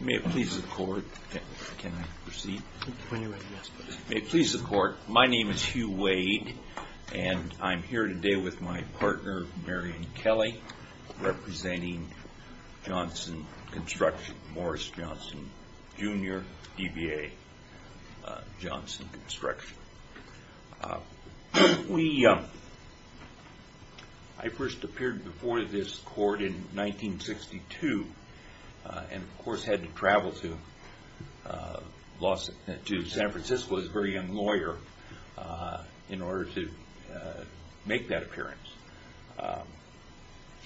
May it please the court, can I proceed? May it please the court, my name is Hugh Wade, and I'm here today with my partner, Marion Kelly, representing Johnson Construction, Morris Johnson Jr., DBA, Johnson Construction. I first appeared before this court in 1962, and of course had to travel to San Francisco as a very young lawyer in order to make that appearance.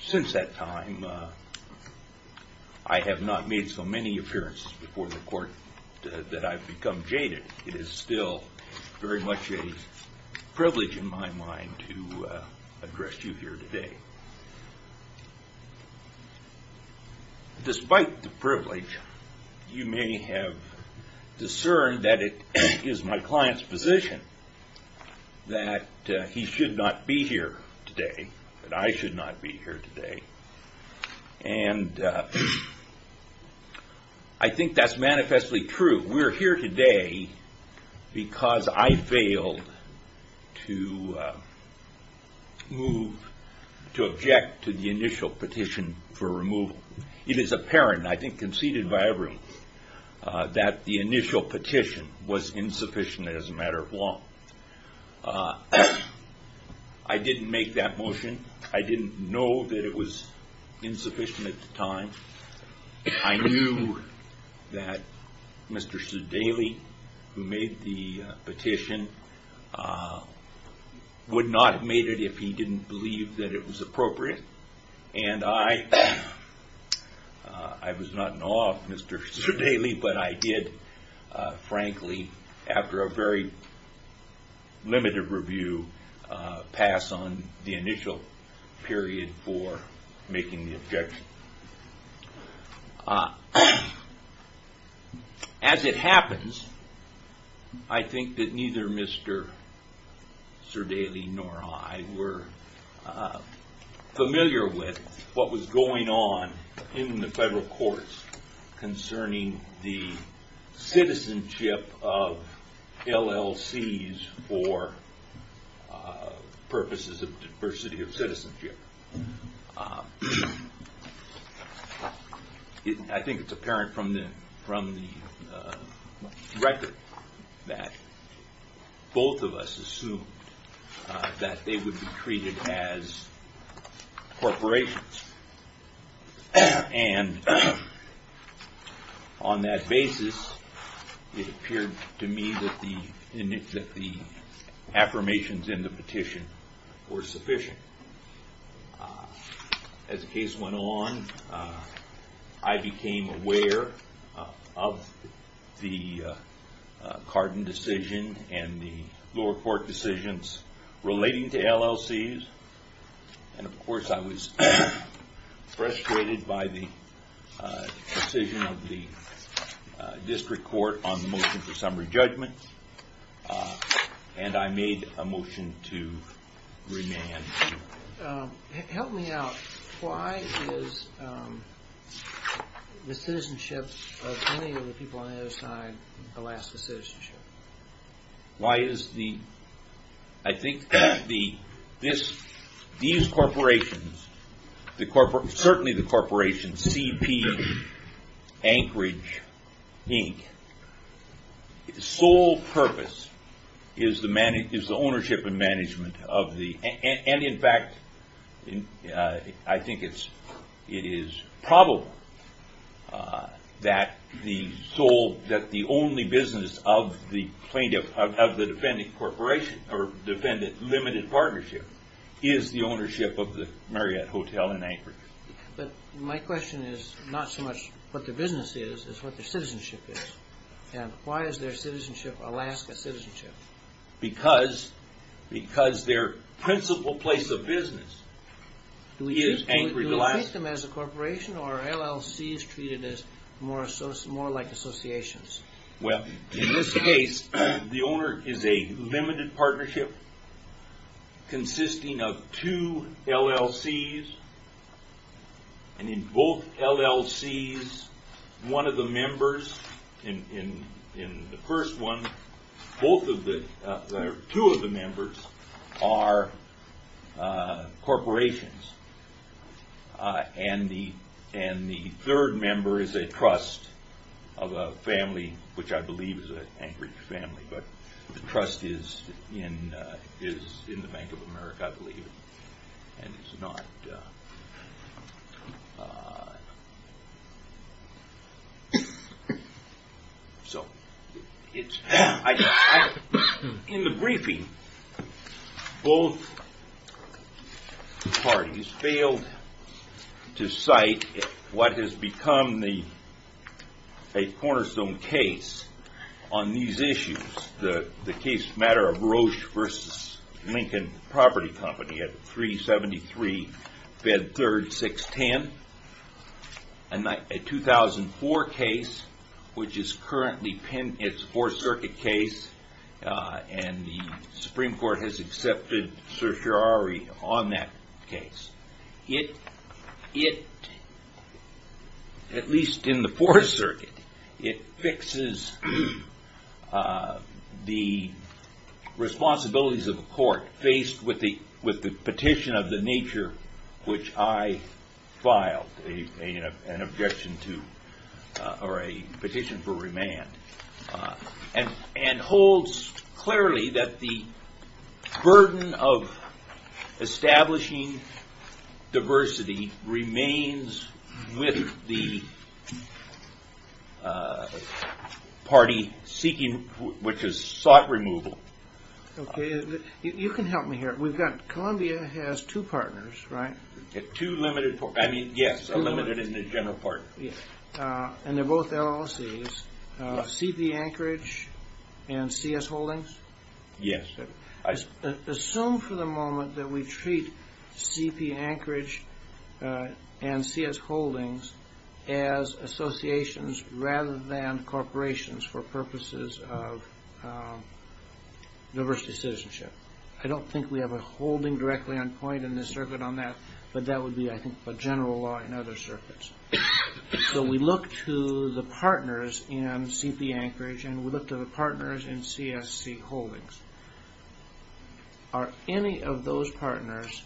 Since that time, I have not made so many appearances before the court that I've become jaded. It is still very much a privilege in my mind to address you here today. Despite the privilege, you may have discerned that it is my client's position that he should not be here today, that I should not be here today. And I think that's manifestly true. We're here today because I failed to object to the initial petition for removal. It is apparent, I think conceded by everyone, that the initial petition was insufficient as a matter of law. I didn't make that motion. I didn't know that it was insufficient at the time. I knew that Mr. Sudaley, who made the petition, would not have made it if he didn't believe that it was appropriate. And I was not in awe of Mr. Sudaley, but I did, frankly, after a very limited review, pass on the initial period for making the objection. As it happens, I think that neither Mr. Sudaley nor I were familiar with what was going on in the federal courts concerning the citizenship of LLCs for purposes of diversity of I think it's apparent from the record that both of us assumed that they would be treated as corporations. And on that basis, it appeared to me that the affirmations in the petition were sufficient. As the case went on, I became aware of the Cardin decision and the lower court decisions relating to LLCs. And, of course, I was frustrated by the decision of the district court on the motion for summary judgment. And I made a motion to remand. Help me out. Why is the citizenship of so many of the people on the other side the last citizenship? Why is the, I think, these corporations, certainly the corporations, CP, Anchorage, Inc., sole purpose is the ownership and management of the, and in fact, I think it is probable that the sole, that the only business of the plaintiff, of the defendant corporation, or defendant limited partnership is the ownership of the Marriott Hotel in Anchorage. But my question is not so much what the business is, it's what the citizenship is. And why is their citizenship Alaska citizenship? Because their principal place of business is Anchorage, Alaska. Do we treat them as a corporation or are LLCs treated as more like associations? Well, in this case, the owner is a limited partnership consisting of two LLCs, and in both LLCs, one of the members, in the first one, both of the, two of the members are corporations. And the third member is a trust of a family, which I believe is an Anchorage family, but the trust is in the Bank of America, I believe. So, in the briefing, both parties failed to cite what has become a cornerstone case on these issues. The case matter of Roche vs. Lincoln Property Company at 373 Bed 3rd 610, a 2004 case, which is currently penned as a Fourth Circuit case, and the Supreme Court has accepted certiorari on that case. It, at least in the Fourth Circuit, it fixes the responsibilities of the court faced with the petition of the nature which I filed an objection to, or a petition for remand. And holds clearly that the burden of establishing diversity remains with the party seeking, which is sought removal. Okay, you can help me here. We've got, Columbia has two partners, right? Two limited, I mean, yes, a limited and a general partner. And they're both LLCs, C.P. Anchorage and C.S. Holdings? Yes. Assume for the moment that we treat C.P. Anchorage and C.S. Holdings as associations rather than corporations for purposes of diversity citizenship. I don't think we have a holding directly on point in this circuit on that, but that would be, I think, the general law in other circuits. So we look to the partners in C.P. Anchorage and we look to the partners in C.S.C. Holdings. Are any of those partners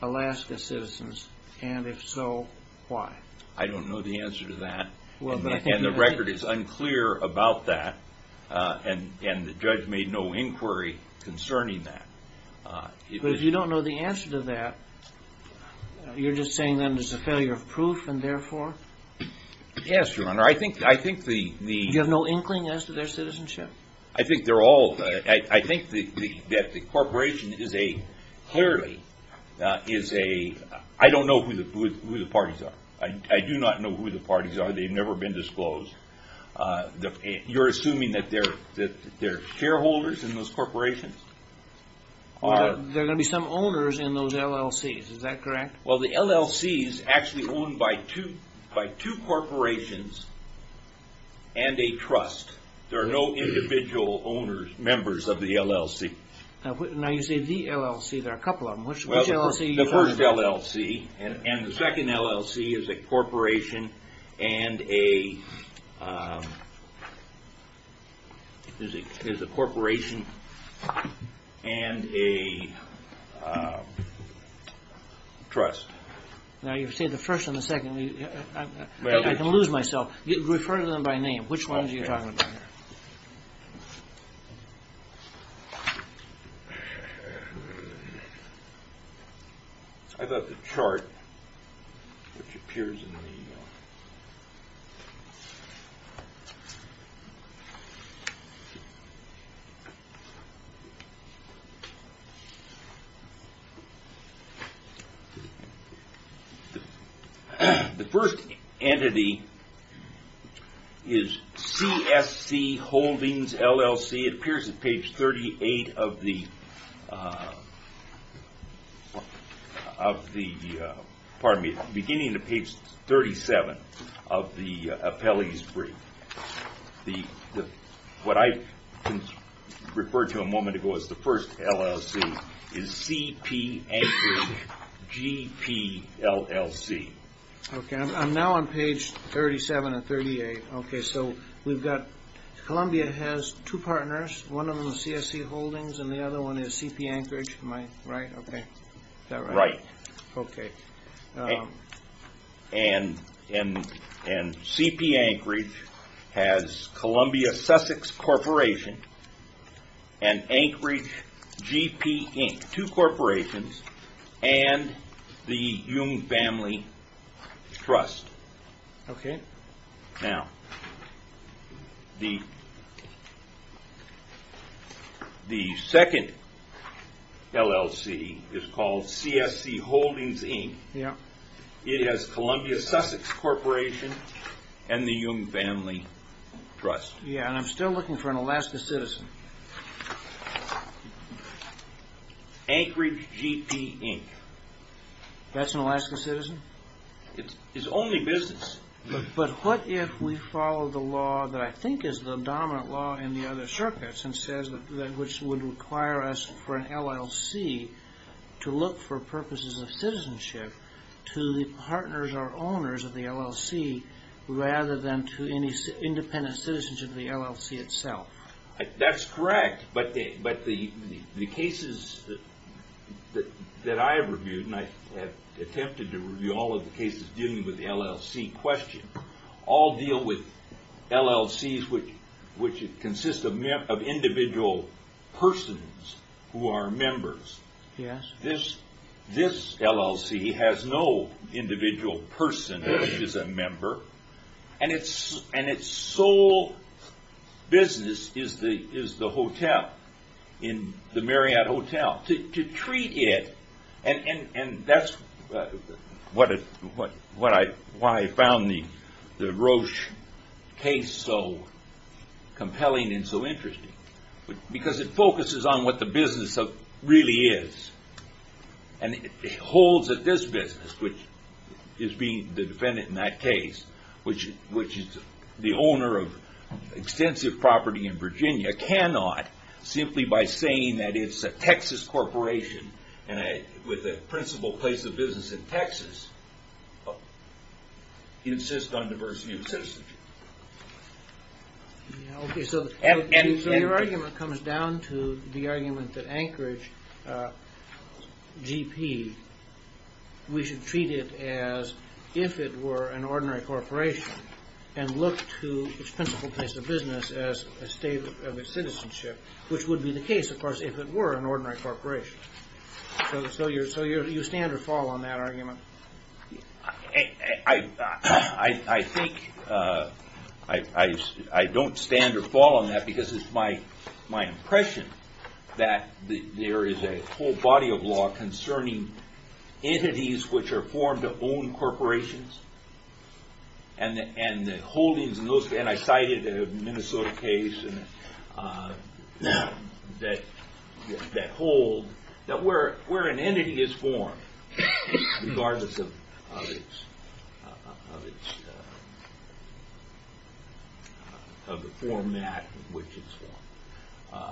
Alaska citizens, and if so, why? I don't know the answer to that, and the record is unclear about that, and the judge made no inquiry concerning that. But if you don't know the answer to that, you're just saying then there's a failure of proof, and therefore? Yes, Your Honor, I think the... You have no inkling as to their citizenship? I think they're all, I think that the corporation is a, clearly, is a, I don't know who the parties are. I do not know who the parties are, they've never been disclosed. You're assuming that they're shareholders in those corporations? There are going to be some owners in those LLCs, is that correct? Well, the LLC is actually owned by two corporations and a trust. There are no individual owners, members of the LLC. Now you say the LLC, there are a couple of them, which LLC? The first LLC, and the second LLC is a corporation and a, is a corporation and a trust. Now you say the first and the second, I can lose myself. Refer to them by name, which one are you talking about? I've got the chart, which appears in the e-mail. The first entity is CSC Holdings LLC, it appears in page 38 of the, of the, pardon me, beginning of page 37. Of the appellee's brief. The, what I referred to a moment ago as the first LLC is CP Anchorage GPLLC. Okay, I'm now on page 37 and 38. Okay, so we've got, Columbia has two partners, one of them is CSC Holdings and the other one is CP Anchorage. Right, okay. Right. Okay. And, and, and CP Anchorage has Columbia Sussex Corporation and Anchorage GP Inc., two corporations, and the Jung Family Trust. Okay. Okay. Now, the, the second LLC is called CSC Holdings Inc. Yeah. It has Columbia Sussex Corporation and the Jung Family Trust. Yeah, and I'm still looking for an Alaska citizen. Anchorage GP Inc. That's an Alaska citizen? It's, it's only business. But, but what if we follow the law that I think is the dominant law in the other circuits and says that, which would require us for an LLC to look for purposes of citizenship to the partners or owners of the LLC rather than to any independent citizenship of the LLC itself? That's correct, but the, but the, the cases that, that I have reviewed, and I have attempted to review all of the cases dealing with the LLC question, all deal with LLCs which, which consist of individual persons who are members. Yes. This, this LLC has no individual person which is a member, and its, and its sole business is the, is the hotel, in the Marriott Hotel. Now, to, to treat it, and, and, and that's what, what I, why I found the, the Roche case so compelling and so interesting. Because it focuses on what the business of, really is. And it holds that this business, which is being, the defendant in that case, which, which is the owner of extensive property in Virginia, cannot, simply by saying that it's a Texas corporation, and a, with a principal place of business in Texas, insist on diversity of citizenship. Okay, so the argument comes down to the argument that Anchorage, GP, we should treat it as if it were an ordinary corporation, and look to its principal place of business as a state of its citizenship, which would be the case, of course, if it were an ordinary corporation. So, so you, so you stand or fall on that argument? I, I, I think, I, I, I don't stand or fall on that, because it's my, my impression that there is a whole body of law concerning entities which are formed to own corporations. And, and the holdings, and those, and I cited the Minnesota case, and that, that hold that where, where an entity is formed, regardless of, of its, of its, of the format in which it's formed.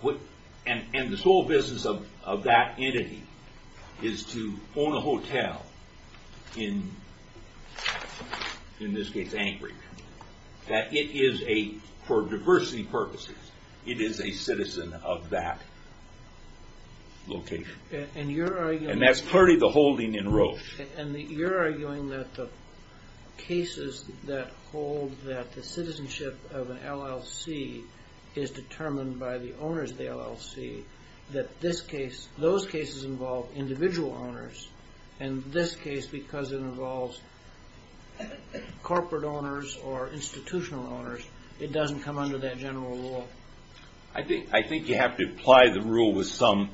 What, and, and the sole business of, of that entity is to own a hotel in, in this case, Anchorage. That it is a, for diversity purposes, it is a citizen of that location. And you're arguing... And that's clearly the holding in Roche. And you're arguing that the cases that hold that the citizenship of an LLC is determined by the owners of the LLC, that this case, those cases involve individual owners, and this case, because it involves corporate owners or institutional owners, it doesn't come under that general law. I think, I think you have to apply the rule with some,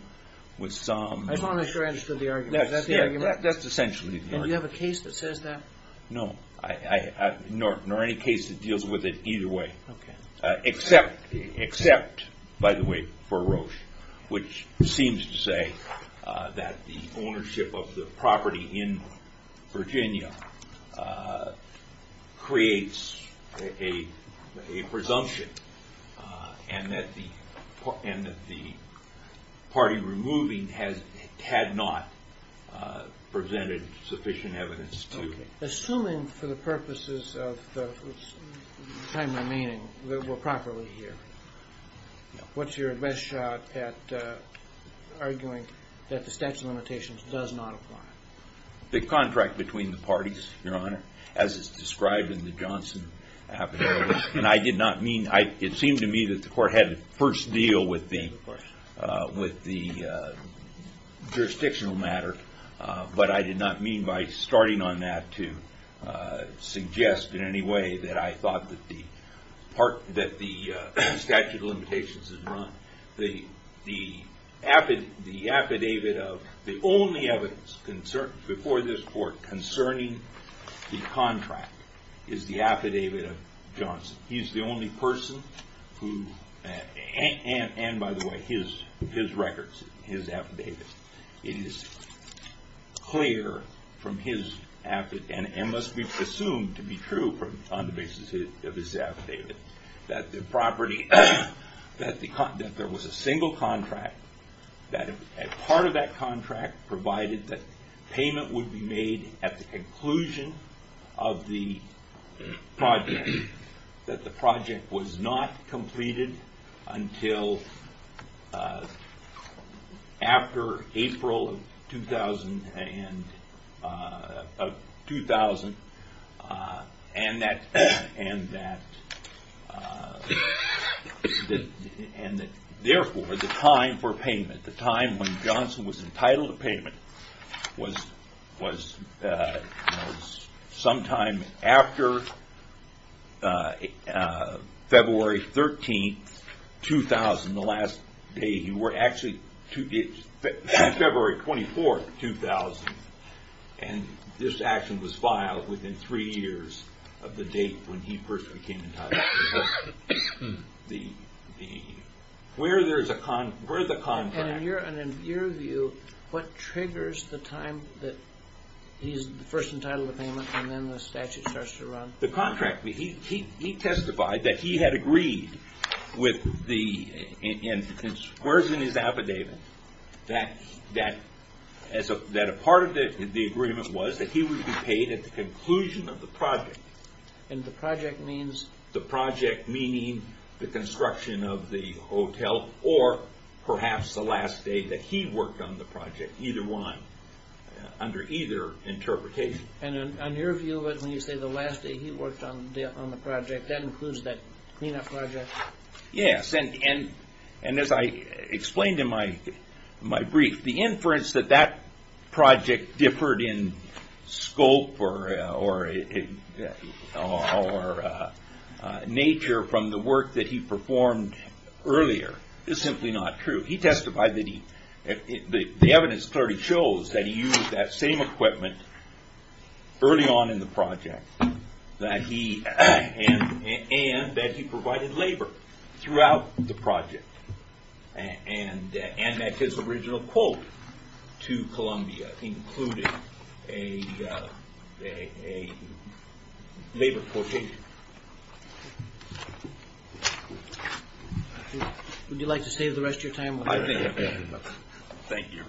with some... I'm not sure I understood the argument. That's, yeah, that's essentially the argument. Do you have a case that says that? No. I, I, nor, nor any case that deals with it either way. Okay. Except, except, by the way, for Roche, which seems to say that the ownership of the property in Virginia creates a, a presumption, and that the, and that the party removing has, had not presented sufficient evidence to... Assuming, for the purposes of the time remaining, that we're properly here, what's your best shot at arguing that the statute of limitations does not apply? The contract between the parties, Your Honor, as is described in the Johnson affidavit. And I did not mean, I, it seemed to me that the court had its first deal with being, with the jurisdictional matter, but I did not mean by starting on that to suggest in any way that I thought that the part, that the statute of limitations is wrong. The, the affidavit, the affidavit of, the only evidence before this court concerning the contract is the affidavit of Johnson. He's the only person who, and, and by the way, his, his records, his affidavit, it is clear from his affid, and, and must be presumed to be true from, on the basis of his affidavit, that the property, that the, that there was a single contract, that a part of that contract provided that payment would be made at the conclusion of the project. That the project was not completed until after April of 2000, and, of 2000, and that, and that, and therefore the time for payment, the time when Johnson was entitled to payment was, was, was sometime after February 13th, 2000, the last day he worked, actually, February 24th, 2000, and this action was filed within three years of the date when he first became entitled to payment. So, the, the, where there's a, where's the contract? And in your, in your view, what triggers the time that he's first entitled to payment, and then the statute starts to run? The contract, he, he, he testified that he had agreed with the, in, in, in squaring his affidavit, that, that, as a, that a part of the, the agreement was that he would be paid at the conclusion of the project. And the project means? The project meaning the construction of the hotel, or perhaps the last day that he worked on the project, either one, under either interpretation. And in, in your view, when you say the last day he worked on the, on the project, that includes that cleanup project? Yes, and, and, and as I explained in my, my brief, the inference that that project differed in scope or, or, or nature from the work that he performed earlier is simply not true. He testified that he, the, the evidence clearly shows that he used that same equipment early on in the project. That he, and, and that he provided labor throughout the project. And, and, and that his original quote to Columbia included a, a, a labor quotation. Would you like to save the rest of your time? Thank you.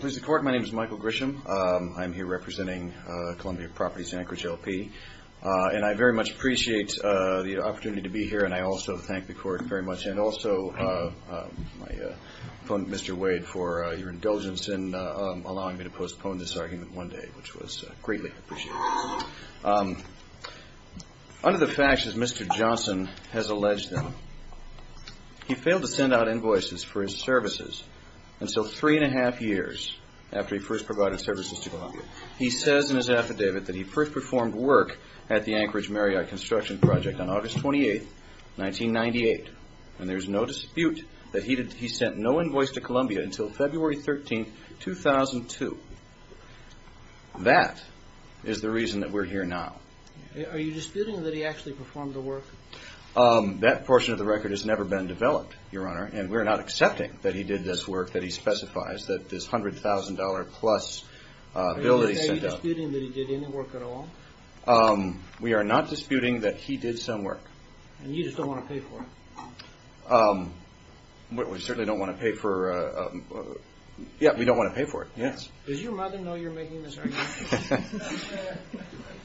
Please record. My name is Michael Grisham. I'm here representing Columbia Properties Anchorage LP. And I very much appreciate the opportunity to be here, and I also thank the court very much. And also, I phoned Mr. Wade for your indulgence in allowing me to postpone this argument one day, which was greatly appreciated. Under the facts, as Mr. Johnson has alleged them, he failed to send out invoices for his services until three and a half years after he first provided services to Columbia. He says in his affidavit that he first performed work at the Anchorage Marriott Construction Project on August 28, 1998. And there's no dispute that he did, he sent no invoice to Columbia until February 13, 2002. That is the reason that we're here now. Are you disputing that he actually performed the work? Um, that portion of the record has never been developed, Your Honor. And we're not accepting that he did this work that he specifies, that this $100,000 plus, uh, bill that he sent out. Are you disputing that he did any work at all? Um, we are not disputing that he did some work. And you just don't want to pay for it? Um, we certainly don't want to pay for, uh, um, yeah, we don't want to pay for it, yes. Does your mother know you're making this argument?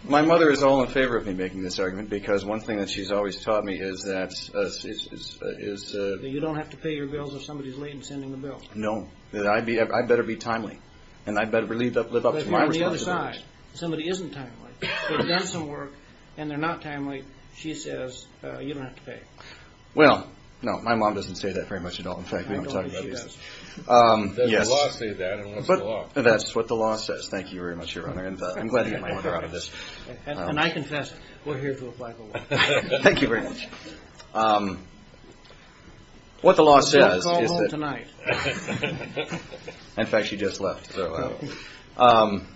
My mother is all in favor of me making this argument, because one thing that she's always taught me is that, uh, is, uh, is, uh... That you don't have to pay your bills if somebody's late in sending the bill. No, that I'd be, I'd better be timely, and I'd better live up to my responsibility. Somebody isn't timely, they've done some work, and they're not timely, she says, uh, you don't have to pay. Well, no, my mom doesn't say that very much at all, in fact, we don't tell her that either. Um, yes. The law says that, and what's the law? That's what the law says, thank you very much, Your Honor, and, uh, I'm glad to get my answer out of this. And I confess it, we're here to apply the law. Thank you very much. Um, what the law says is that... We'll call home tonight. In fact, she just left, so... Um,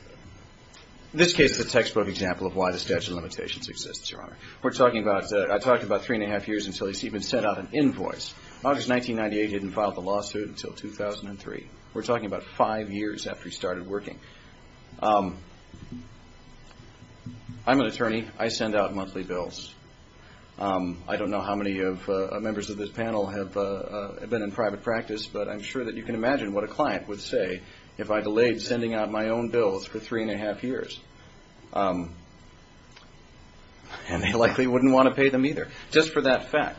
this case is a textbook example of why the statute of limitations exists, Your Honor. We're talking about, uh, I've talked about three and a half years until he's even sent out an invoice. August 1998, he hadn't filed the lawsuit until 2003. We're talking about five years after he started working. Um, I'm an attorney, I send out monthly bills. Um, I don't know how many of, uh, members of this panel have, uh, been in private practice, but I'm sure that you can imagine what a client would say if I delayed sending out my own bills for three and a half years. Um, and they likely wouldn't want to pay them either, just for that fact.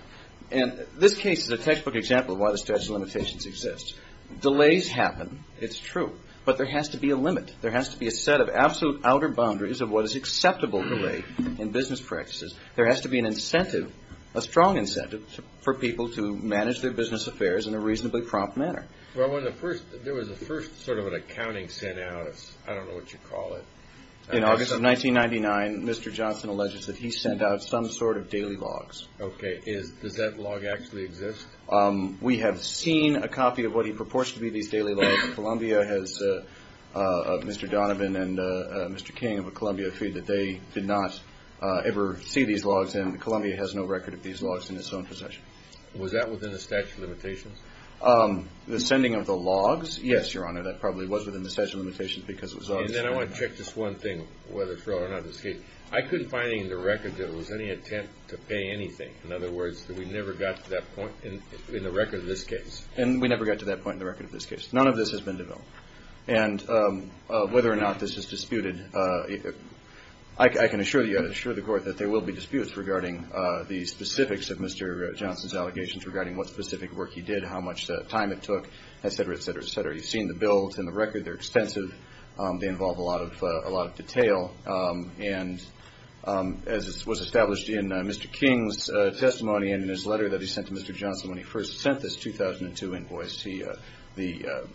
And this case is a textbook example of why the statute of limitations exists. Delays happen, it's true, but there has to be a limit. There has to be a set of absolute outer boundaries of what is acceptable delay in business practices There has to be an incentive, a strong incentive, for people to manage their business affairs in a reasonably prompt manner. Well, when the first, there was the first sort of an accounting sent out, I don't know what you call it. In August of 1999, Mr. Johnson alleges that he sent out some sort of daily logs. Okay, is, does that log actually exist? Um, we have seen a copy of what he purports to be these daily logs. Columbia has, uh, uh, Mr. Donovan and, uh, uh, Mr. King of Columbia have stated that they did not, uh, ever see these logs, and Columbia has no record of these logs in its own possession. Was that within the statute of limitations? Um, the sending of the logs, yes, Your Honor, that probably was within the statute of limitations because it was on the schedule. And then I want to check this one thing, whether it's real or not. I couldn't find any in the record that it was any attempt to pay anything. In other words, we never got to that point in, in the record of this case. And we never got to that point in the record of this case. None of this has been developed. And, um, uh, whether or not this is disputed, uh, I, I can assure you, I assure the Court that there will be disputes regarding, uh, the specifics of Mr. Johnson's allegations regarding what specific work he did, how much, uh, time it took, et cetera, et cetera, et cetera. You've seen the bills in the record. They're expensive. Um, they involve a lot of, uh, a lot of detail. Um, and, um, as it was established in, uh, Mr. King's, uh, testimony and in his letter that he sent to Mr. Johnson when he first sent this 2002 invoice, he, uh, the, uh,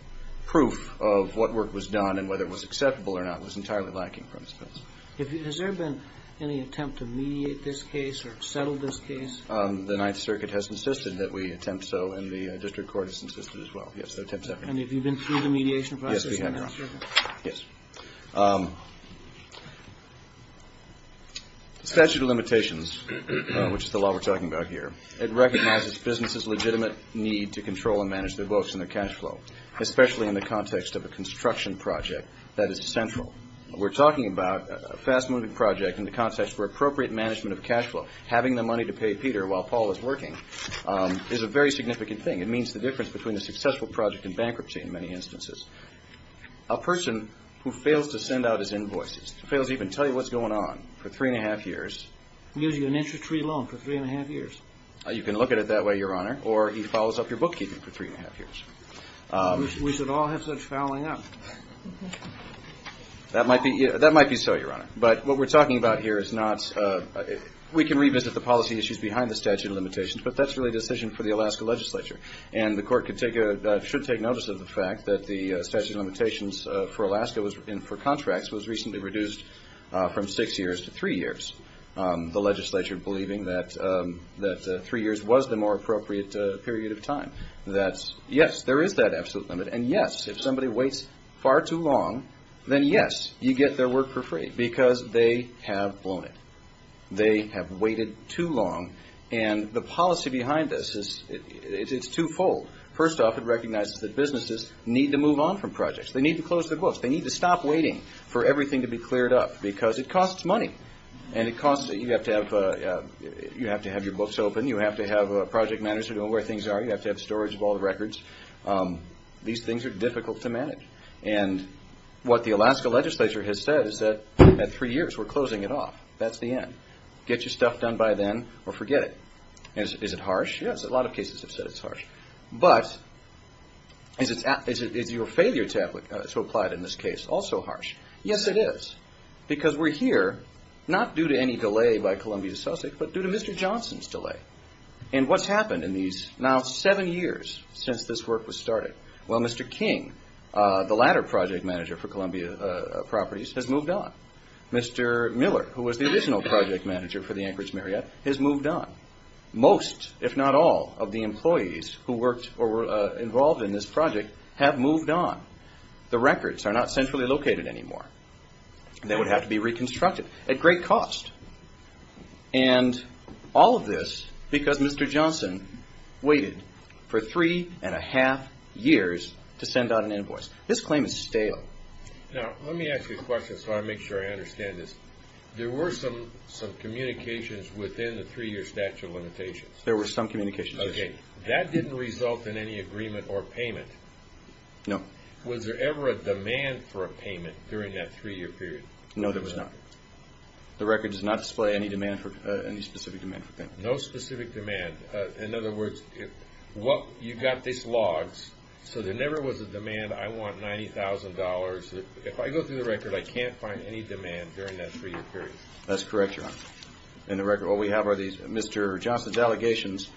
proof of what work was done and whether it was acceptable or not was entirely lacking, for instance. If you, has there been any attempt to mediate this case or settle this case? Um, the Ninth Circuit has insisted that we attempt so, and the, uh, District Court has insisted as well. Yes, there have been attempts. And have you been through the mediation process? Yes, we have, Your Honor. Yes. Um, the statute of limitations, which is the law we're talking about here, it recognizes businesses' legitimate need to control and manage their votes and their cash flow, especially in the context of a construction project that is central. We're talking about a fast-moving project in the context where appropriate management of cash flow, having the money to pay Peter while Paul is working, um, is a very significant thing. It means the difference between a successful project and bankruptcy in many instances. A person who fails to send out his invoices, fails to even tell you what's going on for three and a half years. Gives you an interest-free loan for three and a half years. You can look at it that way, Your Honor, or he fouls up your bookkeeping for three and a half years. We should all have such fouling up. That might be, that might be so, Your Honor. But what we're talking about here is not, uh, we can revisit the policy issues behind the statute of limitations, but that's really a decision for the Alaska legislature. And the court could take a, should take notice of the fact that the statute of limitations for Alaska and for contracts was recently reduced from six years to three years. Um, the legislature believing that, um, that three years was the more appropriate period of time. That's, yes, there is that absolute limit, and yes, if somebody waits far too long, then yes, you get their work for free because they have blown it. They have waited too long. And the policy behind this is, it's twofold. First off, it recognizes that businesses need to move on from projects. They need to close their books. They need to stop waiting for everything to be cleared up because it costs money. And it costs, you have to have, uh, you have to have your books open. You have to have a project manager know where things are. You have to have storage of all the records. Um, these things are difficult to manage. And what the Alaska legislature has said is that at three years, we're closing it off. That's the end. Get your stuff done by then or forget it. Is it harsh? Yes, a lot of cases have said it's harsh. But is your failure to apply it in this case also harsh? Yes, it is. Because we're here, not due to any delay by Columbia Sussex, but due to Mr. Johnson's delay. And what's happened in these now seven years since this work was started? Well, Mr. King, uh, the latter project manager for Columbia, uh, Properties has moved on. Mr. Miller, who was the additional project manager for the Anchorage Marriott, has moved on. Most, if not all, of the employees who worked or were, uh, involved in this project have moved on. The records are not centrally located anymore. They would have to be reconstructed at great cost. And all of this because Mr. Johnson waited for three and a half years to send out an invoice. This claim is stale. Now, let me ask you a question so I make sure I understand this. There were some, some communications within the three-year statute of limitations. There were some communications, yes. Okay. That didn't result in any agreement or payment? No. Was there ever a demand for a payment during that three-year period? No, there was not. The record does not display any demand for, uh, any specific demand for payment. No specific demand. In other words, you've got these logs, so there never was a demand, I want $90,000. If I go through the record, I can't find any demand during that three-year period. That's correct, Your Honor. In the record, what we have are these Mr. Johnson's allegations,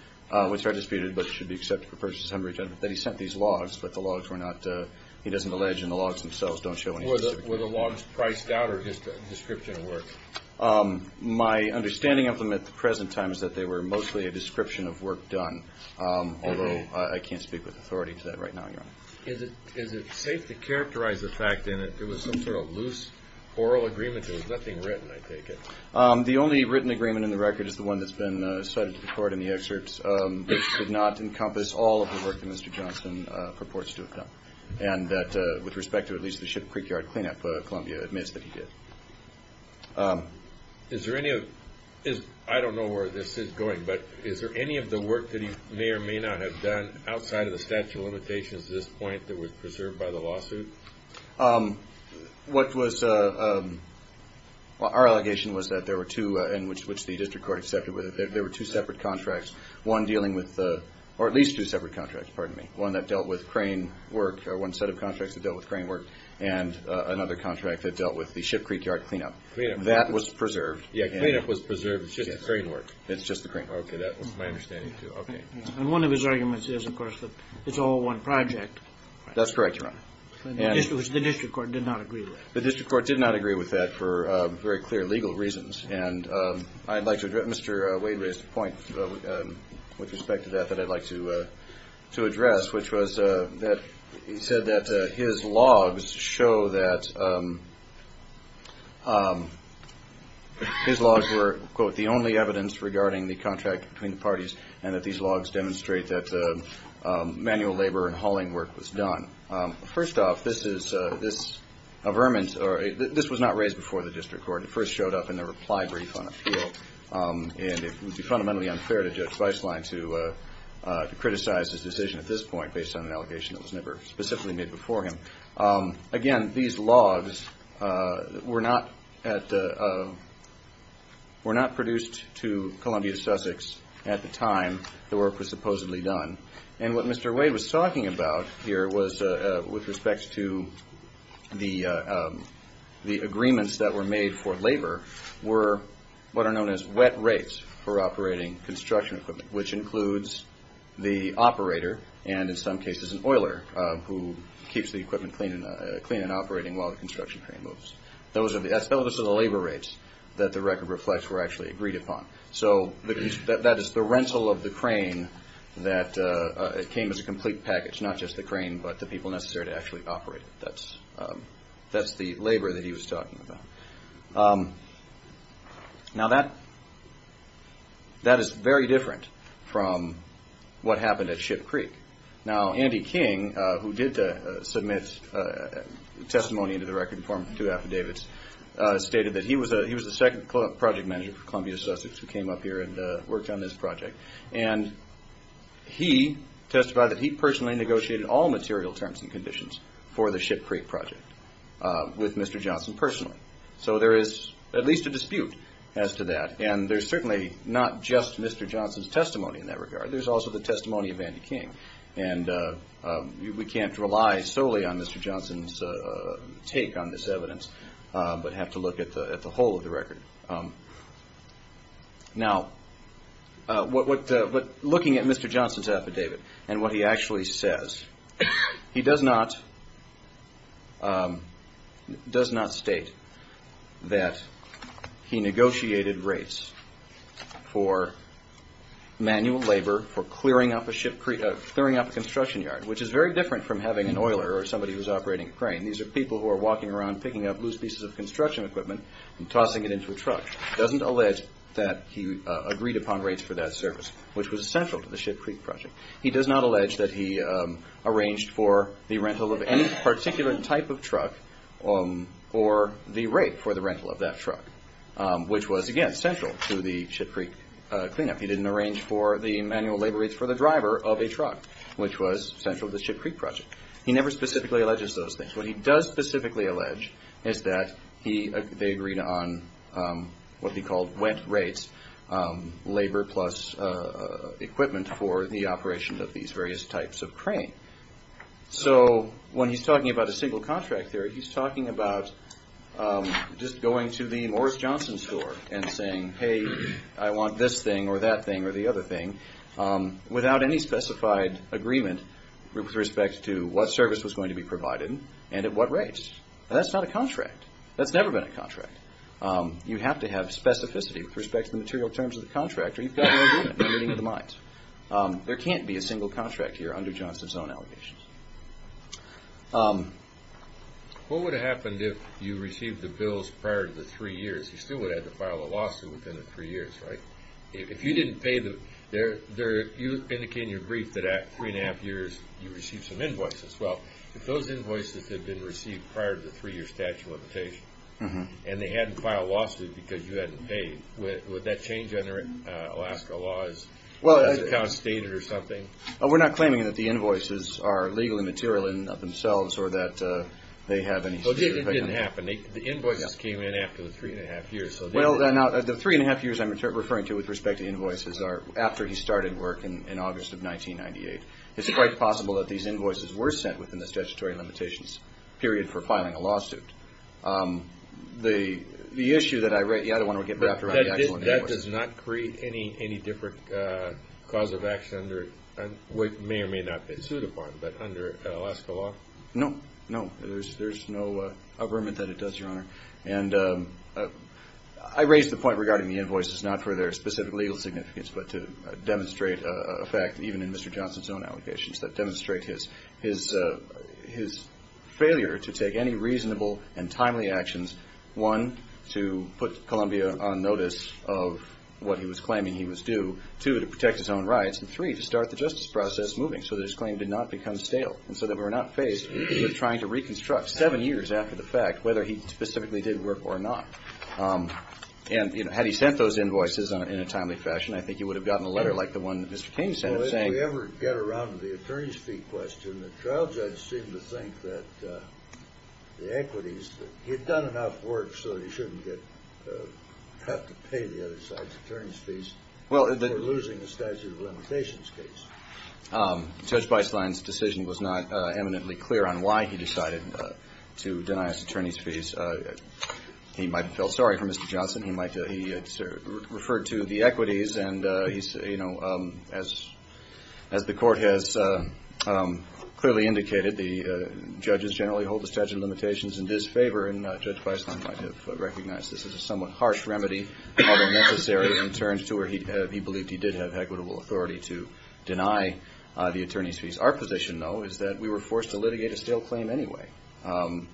which are disputed, but should be accepted for purchase and return, that he sent these logs, but the logs were not, uh, he doesn't allege and the logs themselves don't show anything specific. Were the logs priced out or just a description of work? My understanding of them at the present time is that they were mostly a description of work done, although I can't speak with authority to that right now, Your Honor. Is it safe to characterize the fact that there was some sort of loose oral agreement? There was nothing written, I take it. The only written agreement in the record is the one that's been cited before it in the excerpts. It did not encompass all of the work that Mr. Johnson purports to have done, and that with respect to at least the ship and creek yard cleanup, Columbia admits that he did. Is there any of, I don't know where this is going, but is there any of the work that he may or may not have done outside of the statute of limitations at this point that was preserved by the lawsuit? What was, our allegation was that there were two, and which the district court accepted, there were two separate contracts, one dealing with, or at least two separate contracts, pardon me, one that dealt with crane work, one set of contracts that dealt with crane work, and another contract that dealt with the ship creek yard cleanup. That was preserved. Yeah, cleanup was preserved, the ship crane worked. It's just the crane. Okay, that was my understanding, too. And one of his arguments is, of course, that it's all one project. That's correct, Your Honor. Which the district court did not agree with. The district court did not agree with that for very clear legal reasons, and I'd like to, Mr. Wade raised a point with respect to that that I'd like to address, which was that he said that his logs show that his logs were, quote, the only evidence regarding the contract between the parties, and that these logs demonstrate that manual labor and hauling work was done. First off, this is a vermin, or this was not raised before the district court. It first showed up in a reply brief on appeal, and it would be fundamentally unfair to Judge Weisslein to criticize his decision at this point based on an allegation that was never specifically made before him. Again, these logs were not produced to Columbia to Sussex at the time the work was supposedly done, and what Mr. Wade was talking about here was with respect to the agreements that were made for labor were what are known as wet rates for operating construction equipment, which includes the operator, and in some cases an oiler, who keeps the equipment clean and operating while the construction crane moves. Those are the labor rates that the record reflects were actually agreed upon. So, that is the rental of the crane that came as a complete package, not just the crane but the people necessary to actually operate it. That's the labor that he was talking about. Now, that is very different from what happened at Ship Creek. Now, Andy King, who did submit testimony into the record in form of two affidavits, stated that he was the second project manager for Columbia to Sussex who came up here and worked on this project, and he testified that he personally negotiated all material terms and conditions for the Ship Creek project with Mr. Johnson personally. So, there is at least a dispute as to that, and there's certainly not just Mr. Johnson's testimony in that regard. There's also the testimony of Andy King, and we can't rely solely on Mr. Johnson's take on this evidence. We have to look at the whole of the record. Now, looking at Mr. Johnson's affidavit and what he actually says, he does not state that he negotiated rates for manual labor for clearing up a construction yard, which is very different from having an oiler or somebody who is operating a crane. These are people who are walking around picking up loose pieces of construction equipment and tossing it into a truck. He doesn't allege that he agreed upon rates for that service, which was essential to the Ship Creek project. He does not allege that he arranged for the rental of any particular type of truck or the rate for the rental of that truck, which was, again, central to the Ship Creek cleanup. He didn't arrange for the manual labor rates for the driver of a truck, which was central to the Ship Creek project. He never specifically alleges those things. What he does specifically allege is that they agreed on what he called went rates, labor plus equipment for the operation of these various types of crane. So when he's talking about a single contract here, he's talking about just going to the Morris Johnson store and saying, hey, I want this thing or that thing or the other thing without any specified agreement with respect to what service was going to be provided and at what rates. That's not a contract. That's never been a contract. You have to have specificity with respect to the material terms of the contract or you've got no agreement. You're getting into the mines. There can't be a single contract here under Johnson's own allegations. What would have happened if you received the bills prior to the three years? You still would have to file a lawsuit within the three years, right? If you didn't pay them, you indicated in your brief that after three and a half years, you received some invoices. Well, if those invoices had been received prior to the three-year statute of limitations and they hadn't filed a lawsuit because you hadn't paid, would that change under Alaska law? Is it kind of stated or something? We're not claiming that the invoices are legally material in themselves or that they have any specific agreement. It didn't happen. The invoices came in after the three and a half years. Well, the three and a half years I'm referring to with respect to invoices are after he started work in August of 1998. It's quite possible that these invoices were sent within the statutory limitations period for filing a lawsuit. The issue that I write, yeah, I don't want to get back to it. That does not create any different cause of action under, which may or may not be a suit upon, but under Alaska law? No, no. There's no agreement that it does, Your Honor. And I raise the point regarding the invoices not for their specific legal significance but to demonstrate a fact even in Mr. Johnson's own allegations that demonstrate his failure to take any reasonable and timely actions, one, to put Columbia on notice of what he was claiming he was due, two, to protect his own rights, and three, to start the justice process moving so that his claim did not become stale and so that we're not faced with him trying to reconstruct seven years after the fact whether he specifically did work or not. And had he sent those invoices in a timely fashion, I think he would have gotten a letter like the one that Mr. King sent saying- Well, if you ever get around to the attorney's fee question, the trial judge seemed to think that the equities, he'd done enough work so he shouldn't have to pay the other side's attorney's fees. Well- They're losing a statute of limitations case. Judge Weisslein's decision was not eminently clear on why he decided to deny his attorney's fees. He might have felt sorry for Mr. Johnson. He referred to the equities and, you know, as the Court has clearly indicated, the judges generally hold the statute of limitations in disfavor, and Judge Weisslein might have recognized this as a somewhat harsh remedy, although necessary in terms to where he believed he did have equitable authority to deny the attorney's fees. Our position, though, is that we were forced to litigate a stale claim anyway,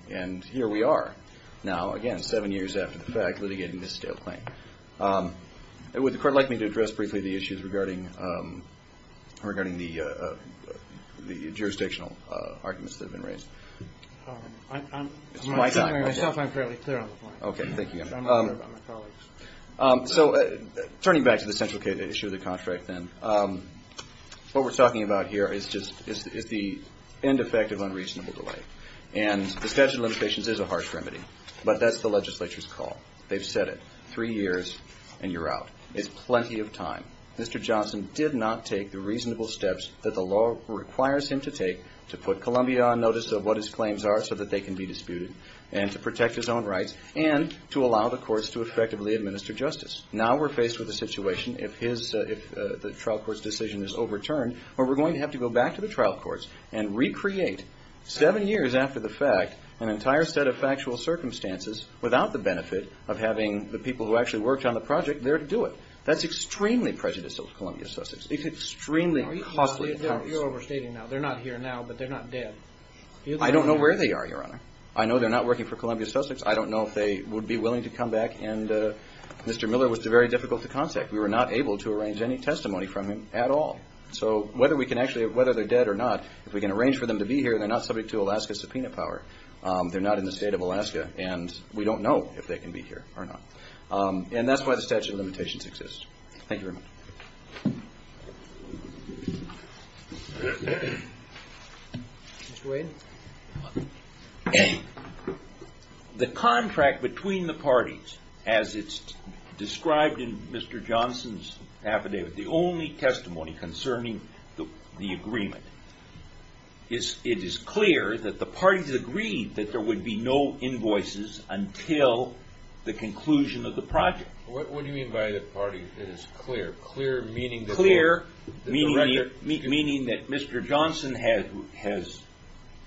and here we are now, again, seven years after the fact, litigating this stale claim. Would the Court like me to address briefly the issues regarding the jurisdictional arguments that have been raised? I'm not entirely clear on the point. Okay, thank you. So, turning back to the central issue of the contract, then, what we're talking about here is the end effect of unreasonable delay, and the statute of limitations is a harsh remedy, but that's the legislature's call. They've said it. Three years and you're out. It's plenty of time. Mr. Johnson did not take the reasonable steps that the law requires him to take to put Columbia on notice of what his claims are so that they can be disputed, and to protect his own rights, and to allow the courts to effectively administer justice. Now we're faced with a situation if the trial court's decision is overturned where we're going to have to go back to the trial courts and recreate, seven years after the fact, an entire set of factual circumstances without the benefit of having the people who actually worked on the project there to do it. That's extremely prejudicial to Columbia Sussex. It's extremely costly to Congress. You're overstating now. They're not here now, but they're not dead. I don't know where they are, Your Honor. I know they're not working for Columbia Sussex. I don't know if they would be willing to come back, and Mr. Miller was very difficult to contact. We were not able to arrange any testimony from him at all. So, whether they're dead or not, if we can arrange for them to be here, they're not subject to Alaska subpoena power. They're not in the state of Alaska, and we don't know if they can be here or not. And that's why the statute of limitations exists. Thank you very much. The contract between the parties, as it's described in Mr. Johnson's affidavit, the only testimony concerning the agreement, it is clear that the parties agreed that there would be no invoices until the conclusion of the project. What do you mean by the parties? It's clear. Clear meaning that Mr. Johnson has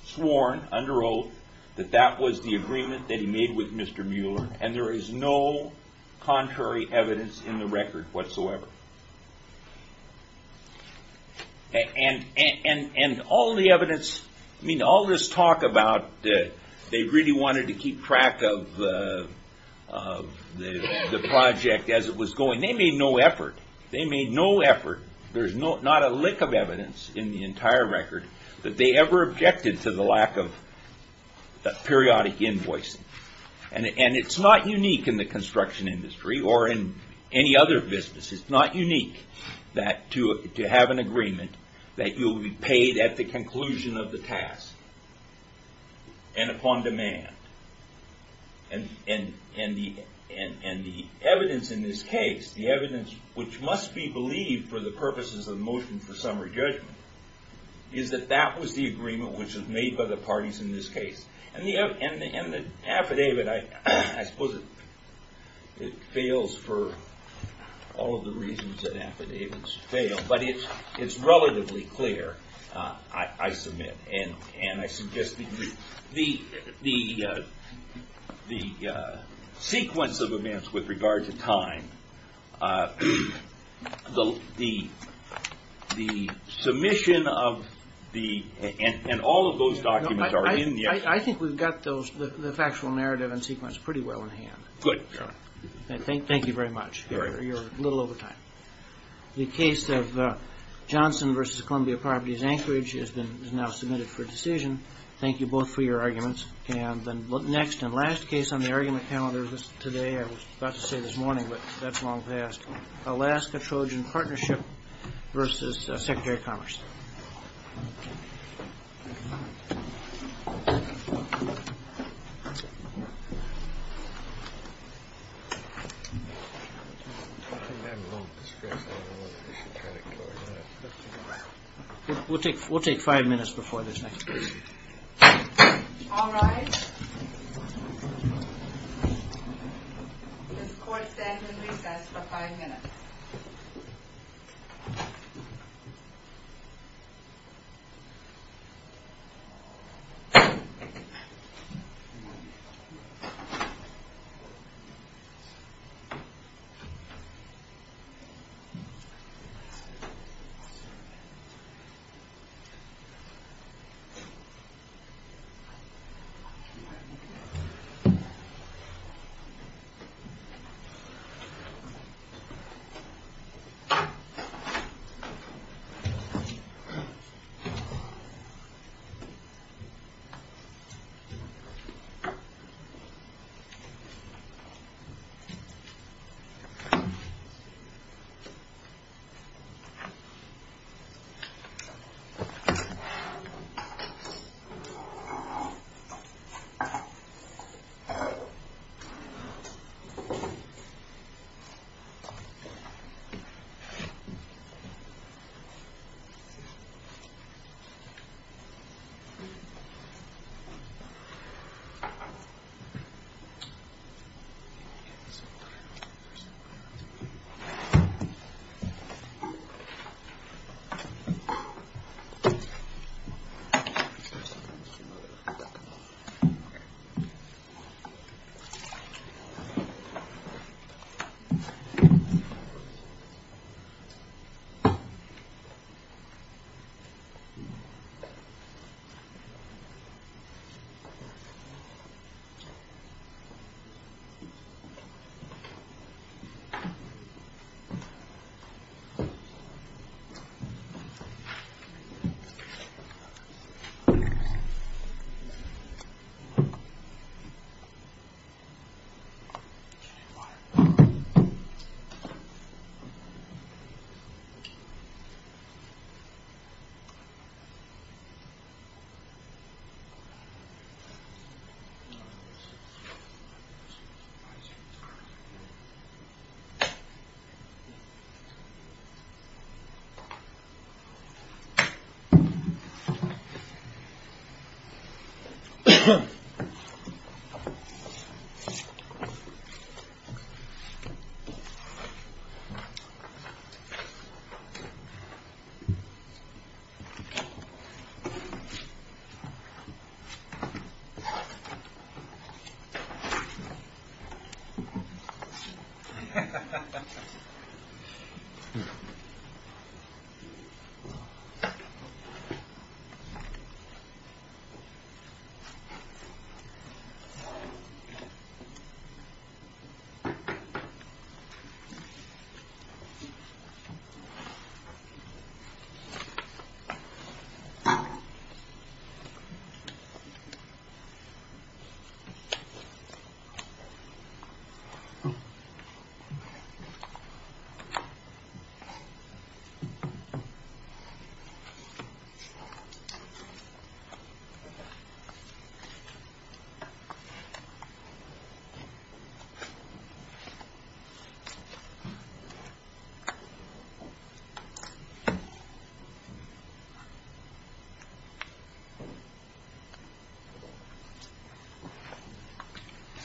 sworn, under oath, that that was the agreement that he made with Mr. Miller, and there is no contrary evidence in the record whatsoever. And all the evidence, I mean, all this talk about that they really wanted to keep track of the project as it was going, they made no effort. They made no effort. There's not a lick of evidence in the entire record that they ever objected to the lack of periodic invoice. And it's not unique in the construction industry or in any other business. It's not unique to have an agreement that you'll be paid at the conclusion of the task and upon demand. And the evidence in this case, the evidence which must be believed for the purposes of the motion for summary judgment, is that that was the agreement which was made by the parties in this case. And the affidavit, I suppose it fails for all of the reasons that affidavits fail, but it's relatively clear, I submit, and I suggest that the sequence of events with regard to time, the submission of the, and all of those documents are in. I think we've got the factual narrative and sequence pretty well in hand. Good. Thank you very much. You're a little over time. The case of Johnson v. Columbia Properties Anchorage is now submitted for decision. Thank you both for your arguments. Next and last case on the argument calendar today, I was about to say this morning, but that's long past, Alaska Trojan Partnership v. Secretary of Commerce. We'll take five minutes before this next case. All rise. This court stands in recess for five minutes.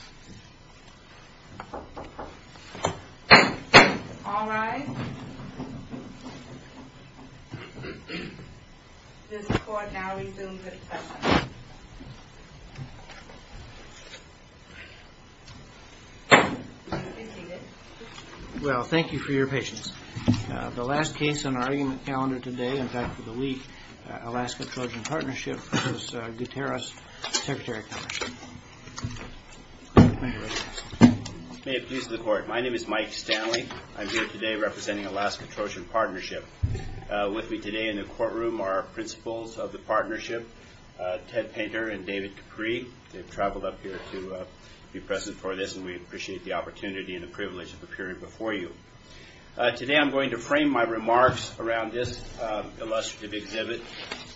Five minutes. Five minutes. Five minutes. Five minutes. Five minutes. Five minutes. Five minutes. Five minutes. Five minutes. Five minutes. Five minutes. Five minutes. Five minutes. Five minutes. Five minutes. It's a bit of a mess. It's a bit of a mess. It's a bit of a mess. It's a bit of a mess. All right. All right. Well, thank you for your patience. The last case on our calendar today, in fact, for the week, Alaska Trojan Partnership v. Gutierrez, Secretary of Commerce. May it please the court. My name is Mike Stanley. I'm here today representing Alaska Trojan Partnership. With me today in the courtroom are our principals of the partnership, Ted Painter and David Dupree. They've traveled up here to be present for this, and we appreciate the opportunity and the privilege of appearing before you. Today I'm going to frame my remarks around this illustrative exhibit.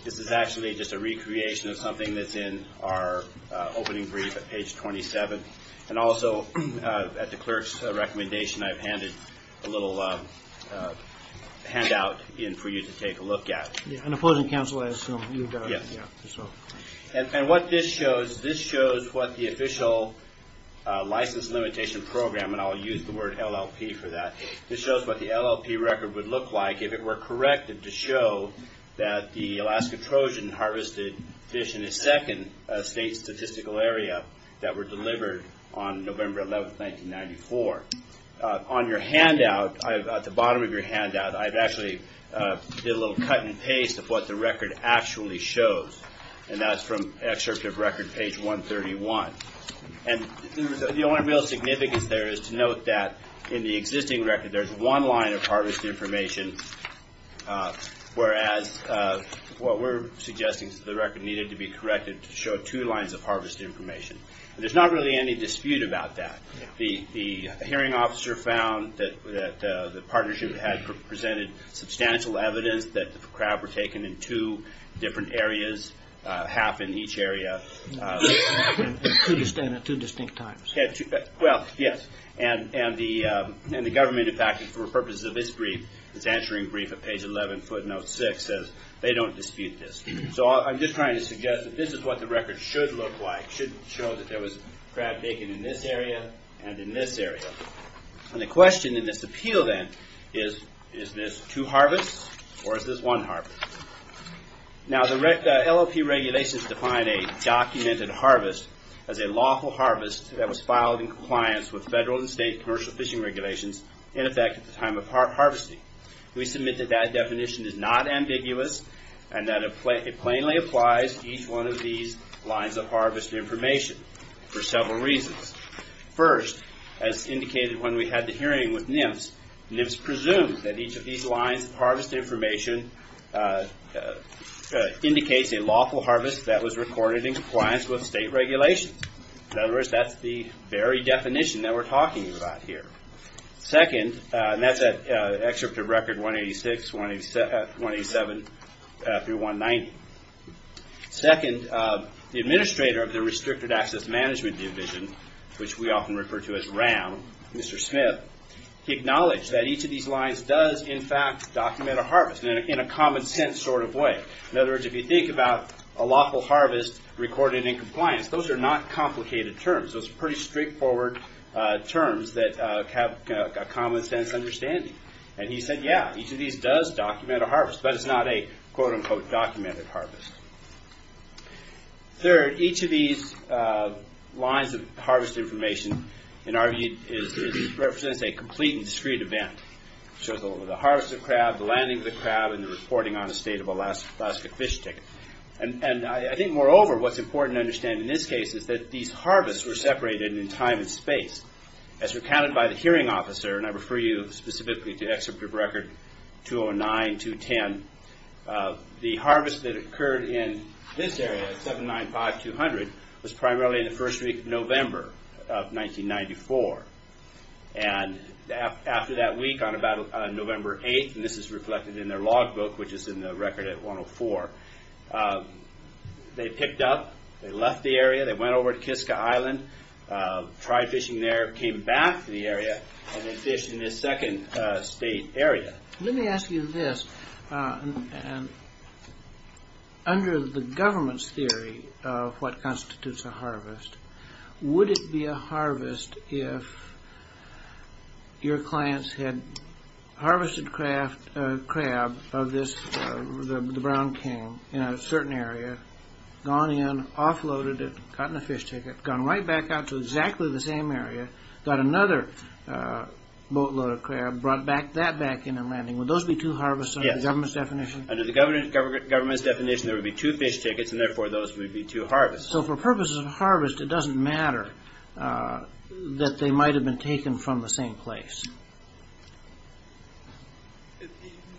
This is actually just a recreation of something that's in our opening brief at page 27. And also, at the clerk's recommendation, I've handed a little handout in for you to take a look at. Yeah, on the closing counsel, I assume, you've got a handout as well. And what this shows, this shows what the official license limitation program, and I'll use the word LLP for that, this shows what the LLP record would look like if it were corrected to show that the Alaska Trojan harvested fish in the second state statistical area that were delivered on November 11, 1994. On your handout, at the bottom of your handout, I've actually did a little cut and paste of what the record actually shows. And that's from excerpt of record page 131. And the only real significance there is to note that in the existing record, there's one line of harvest information, whereas what we're suggesting is that the record needed to be corrected to show two lines of harvest information. And there's not really any dispute about that. The hearing officer found that the partnership had presented substantial evidence that the crab were taken in two different areas, half in each area. Two distinct times. Well, yes. And the government, in fact, for purposes of this brief, is answering brief at page 11, footnote 6, says they don't dispute this. So I'm just trying to suggest that this is what the record should look like. It should show that there was crab taken in this area and in this area. And the question in this appeal then is, is this two harvests or is this one harvest? Now, the LLP regulations define a documented harvest as a lawful harvest that was filed in compliance with federal and state commercial fishing regulations in effect at the time of harvesting. We submit that that definition is not ambiguous and that it plainly applies to each one of these lines of harvest information for several reasons. First, as indicated when we had the hearing with NIPS, NIPS presumes that each of these lines of harvest information indicates a lawful harvest that was recorded in compliance with state regulations. In other words, that's the very definition that we're talking about here. Second, and that's an excerpt of Record 186, 187 through 190. Second, the administrator of the Restricted Access Management Division, which we often refer to as RAM, Mr. Smith, acknowledged that each of these lines does, in fact, document a harvest in a common sense sort of way. In other words, if you think about a lawful harvest recorded in compliance, those are not complicated terms. Those are pretty straightforward terms that have a common sense understanding. And he said, yeah, each of these does document a harvest, but it's not a, quote, unquote, documented harvest. Third, each of these lines of harvest information, in our view, represents a complete and discrete event. So the harvest of crab, the landing of the crab, and the reporting on a state of Alaska fish ticket. And I think, moreover, what's important to understand in this case is that these harvests were separated in time and space. As recounted by the hearing officer, and I refer you specifically to Excerpt of Record 209-210, the harvest that occurred in this area, 795-200, was primarily in the first week of November of 1994. And after that week, on about November 8th, and this is reflected in their log book, which is in the record at 104, they picked up, they left the area, they went over to Kiska Island, tried fishing there, came back to the area, and went fishing in this second state area. Let me ask you this. Under the government's theory of what constitutes a harvest, would it be a harvest if your clients had harvested crab of this, the brown king, in a certain area, gone in, offloaded it, gotten a fish ticket, gone right back out to exactly the same area, got another boatload of crab, brought that back in and landing. Would those be two harvests under the government's definition? Yes. Under the government's definition, there would be two fish tickets, and therefore, those would be two harvests. So, for purposes of harvest, it doesn't matter that they might have been taken from the same place.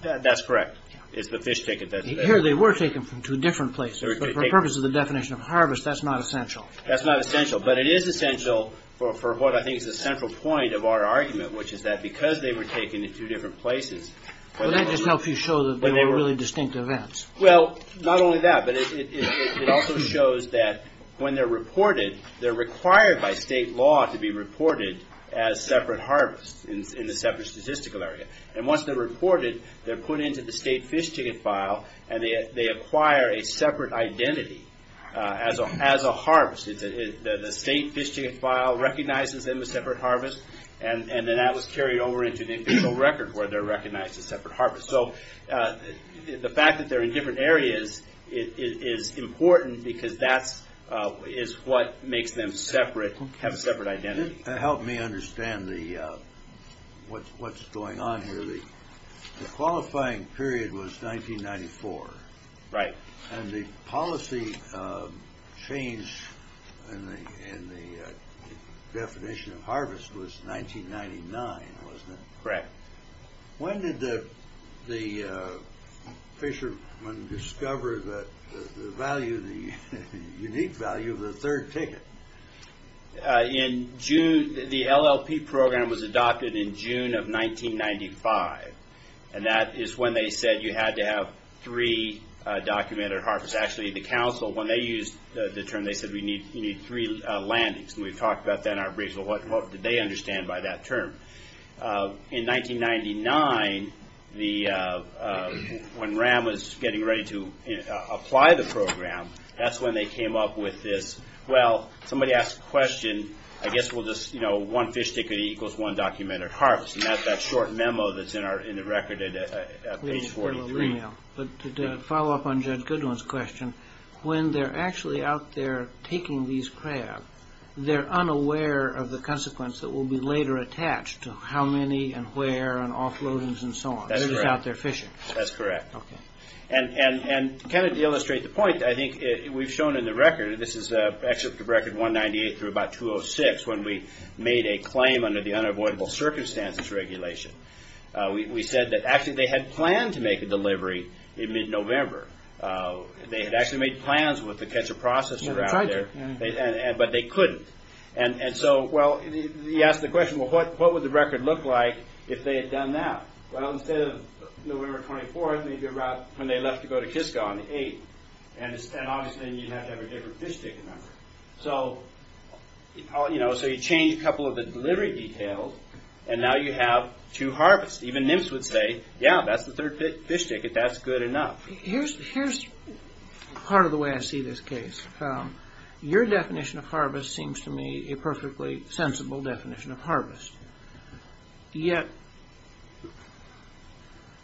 That's correct. If the fish ticket doesn't matter. Here, they were taken from two different places, but for purposes of the definition of harvest, that's not essential. That's not essential, but it is essential for what I think is the central point of our argument, which is that because they were taken in two different places... That doesn't help you show that they were really distinct events. Well, not only that, but it also shows that when they're reported, they're required by state law to be reported as separate harvests in a separate statistical area. And once they're reported, they're put into the state fish ticket file, and they acquire a separate identity as a harvest. The state fish ticket file recognizes them as separate harvests, and then that was carried over into the individual record where they're recognized as separate harvests. So, the fact that they're in different areas is important because that is what makes them have a separate identity. Help me understand what's going on here. The qualifying period was 1994. Right. And the policy change in the definition of harvest was 1999, wasn't it? Right. When did the fishermen discover the value, the unique value of the third ticket? In June, the LLP program was adopted in June of 1995, and that is when they said you had to have three documented harvests. Actually, the council, when they used the term, they said we need three landings, and we talked about that in our briefing. What did they understand by that term? In 1999, when RAM was getting ready to apply the program, that's when they came up with this, well, somebody asked a question, I guess we'll just, you know, one fish ticket equals one documented harvest, and that's that short memo that's in the record at page 43. But to follow up on Jed Goodwin's question, when they're actually out there taking these crabs, they're unaware of the consequence that will be later attached to how many and where and offloadings and so on. They're just out there fishing. That's correct. Okay. And to kind of illustrate the point, I think we've shown in the record, this is actually up to record 198 through about 206, when we made a claim under the unavoidable circumstances regulation. We said that actually they had planned to make a delivery in mid-November. They had actually made plans with the catcher processors out there, but they couldn't. And so, well, he asked the question, well, what would the record look like if they had done that? Well, instead of November 24th, it would be about when they left to go to Kisco on the 8th. And obviously, you'd have to have a different fish ticket number. So, you know, so you change a couple of the delivery details and now you have two harvests. Even NIMS would say, yeah, that's the third fish ticket. That's good enough. Here's part of the way I see this case. Your definition of harvest seems to me a perfectly sensible definition of harvest. Yet,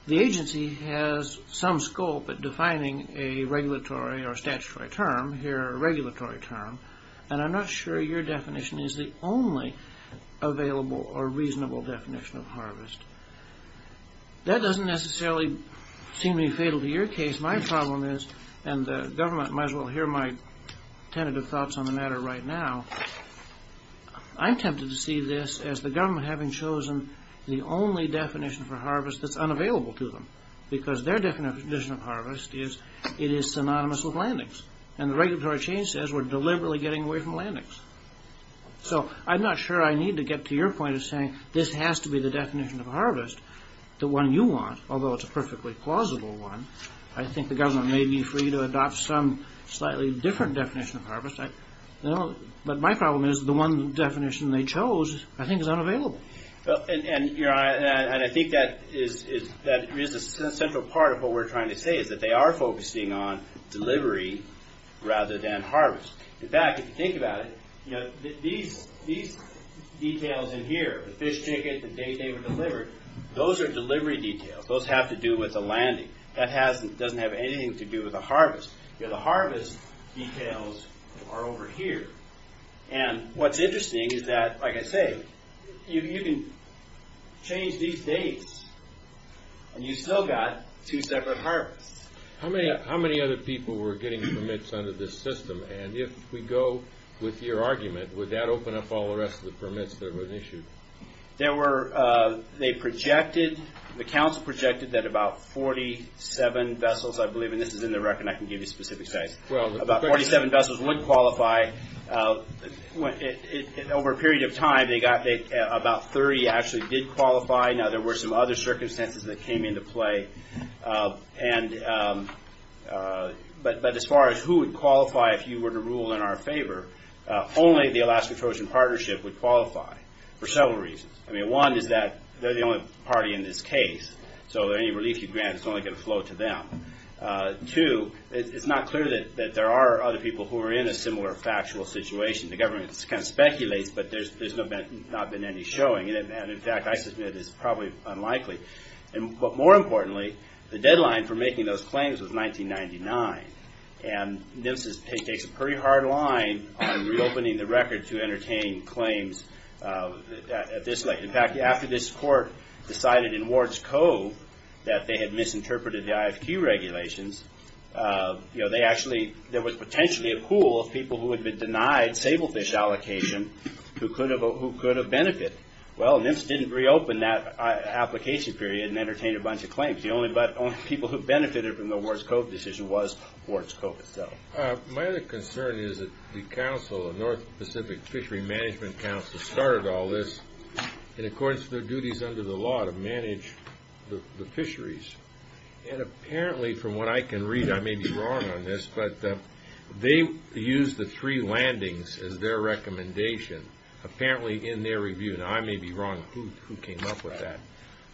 the agency has some scope at defining a regulatory or statutory term. Here, a regulatory term. And I'm not sure your definition is the only available or reasonable definition of harvest. That doesn't necessarily seem to be fatal to your case. My problem is, and the government might as well hear my tentative thoughts on the matter right now, I'm tempted to see this as the government having chosen the only definition for harvest that's unavailable to them. Because their definition of harvest is it is synonymous with landings. And the regulatory chain says we're deliberately getting away from landings. So, I'm not sure I need to get to your point of saying this has to be the definition of harvest, the one you want, although it's a perfectly plausible one. I think the government may be free to adopt some slightly different definition of harvest. But my problem is the one definition they chose, I think, is unavailable. And I think that is a central part of what we're trying to say, is that they are focusing on delivery rather than harvest. In fact, if you think about it, you know, these details in here, the fish tickets, the date they were delivered, those are delivery details. Those have to do with the landing. That doesn't have anything to do with the harvest. You know, the harvest details are over here. And what's interesting is that, like I say, you can change these dates and you've still got two separate harvests. How many other people were getting permits under this system? And if we go with your argument, would that open up all the rest of the permits that were issued? There were, they projected, the council projected that about 47 vessels, I believe, and this is in the record and I can give you a specific size, about 47 vessels wouldn't qualify. Over a period of time, about 30 actually did qualify. Now, there were some other circumstances that came into play. But as far as who would qualify if you were to rule in our favor, only the Alaska Trojan Partnership would qualify for several reasons. I mean, one is that they're the only party in this case, so any relief you grant is only going to flow to them. Two, it's not clear that there are other people who are in a similar factual situation. The government kind of speculates, but there's not been any showing. And in fact, I just know that it's probably unlikely. But more importantly, the deadline for making those claims was 1999. And this takes a pretty hard line on reopening the record to entertain claims at this length. In fact, after this court decided in Ward's Cove that they had misinterpreted the IFQ regulations, you know, they actually, there was potentially a pool of people who had been denied sablefish allocation who could have benefited. Well, and this didn't reopen that application period and entertain a bunch of claims. The only people who benefited from the Ward's Cove decision was Ward's Cove itself. My other concern is that the council, the North Pacific Fishery Management Council, started all this in accordance with their duties under the law to manage the fisheries. And apparently, from what I can read, I may be wrong on this, but they used the three landings as their recommendation apparently in their review. Now, I may be wrong. Who came up with that?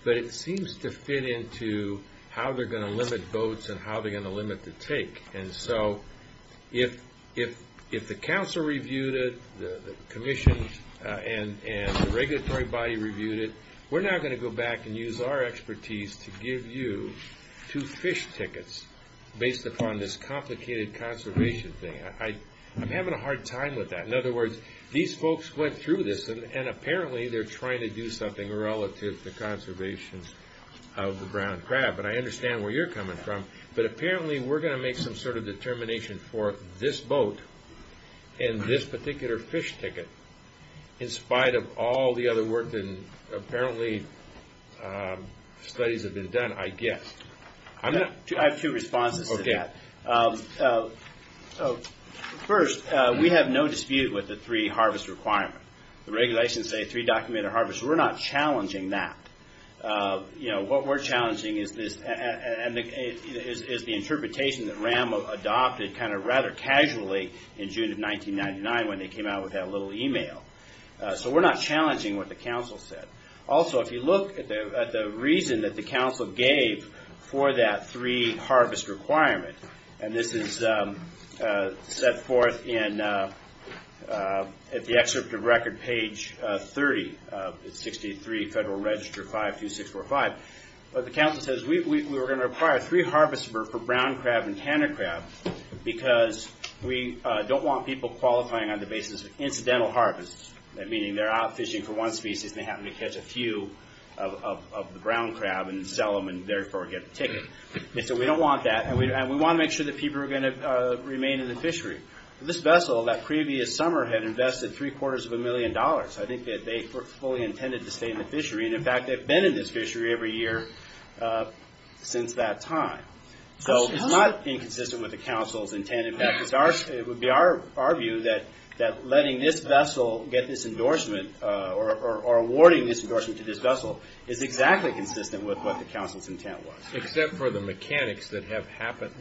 But it seems to fit into how they're going to limit boats and how they're going to limit the take. And so if the council reviewed it, the commission and the regulatory body reviewed it, we're not going to go back and use our expertise to give you two fish tickets based upon this complicated conservation thing. I'm having a hard time with that. In other words, these folks went through this, and apparently they're trying to do something relative to conservation of the brown crab. But I understand where you're coming from. But apparently we're going to make some sort of determination for this boat and this particular fish ticket, in spite of all the other work that apparently studies have been done, I guess. I have two responses to that. First, we have no dispute with the three harvest requirement. The regulations say three documented harvests. We're not challenging that. What we're challenging is the interpretation that RAM adopted kind of rather casually in June of 1999 when they came out with that little e-mail. So we're not challenging what the council said. Also, if you look at the reason that the council gave for that three harvest requirement, and this is set forth at the excerpt of record page 30 of 63 Federal Register 52645, the council says we're going to require three harvests for brown crab and tanner crab because we don't want people qualifying on the basis of incidental harvests, meaning they're out fishing for one species and they happen to catch a few of the brown crab and sell them and therefore get a ticket. So we don't want that, and we want to make sure that people are going to remain in the fishery. This vessel, that previous summer, had invested three-quarters of a million dollars. I think that they were fully intended to stay in the fishery, and in fact they've been in this fishery every year since that time. So it's not inconsistent with the council's intent. In fact, it would be our view that letting this vessel get this endorsement or awarding this endorsement to this vessel is exactly consistent with what the council's intent was. Except for the mechanics that have happened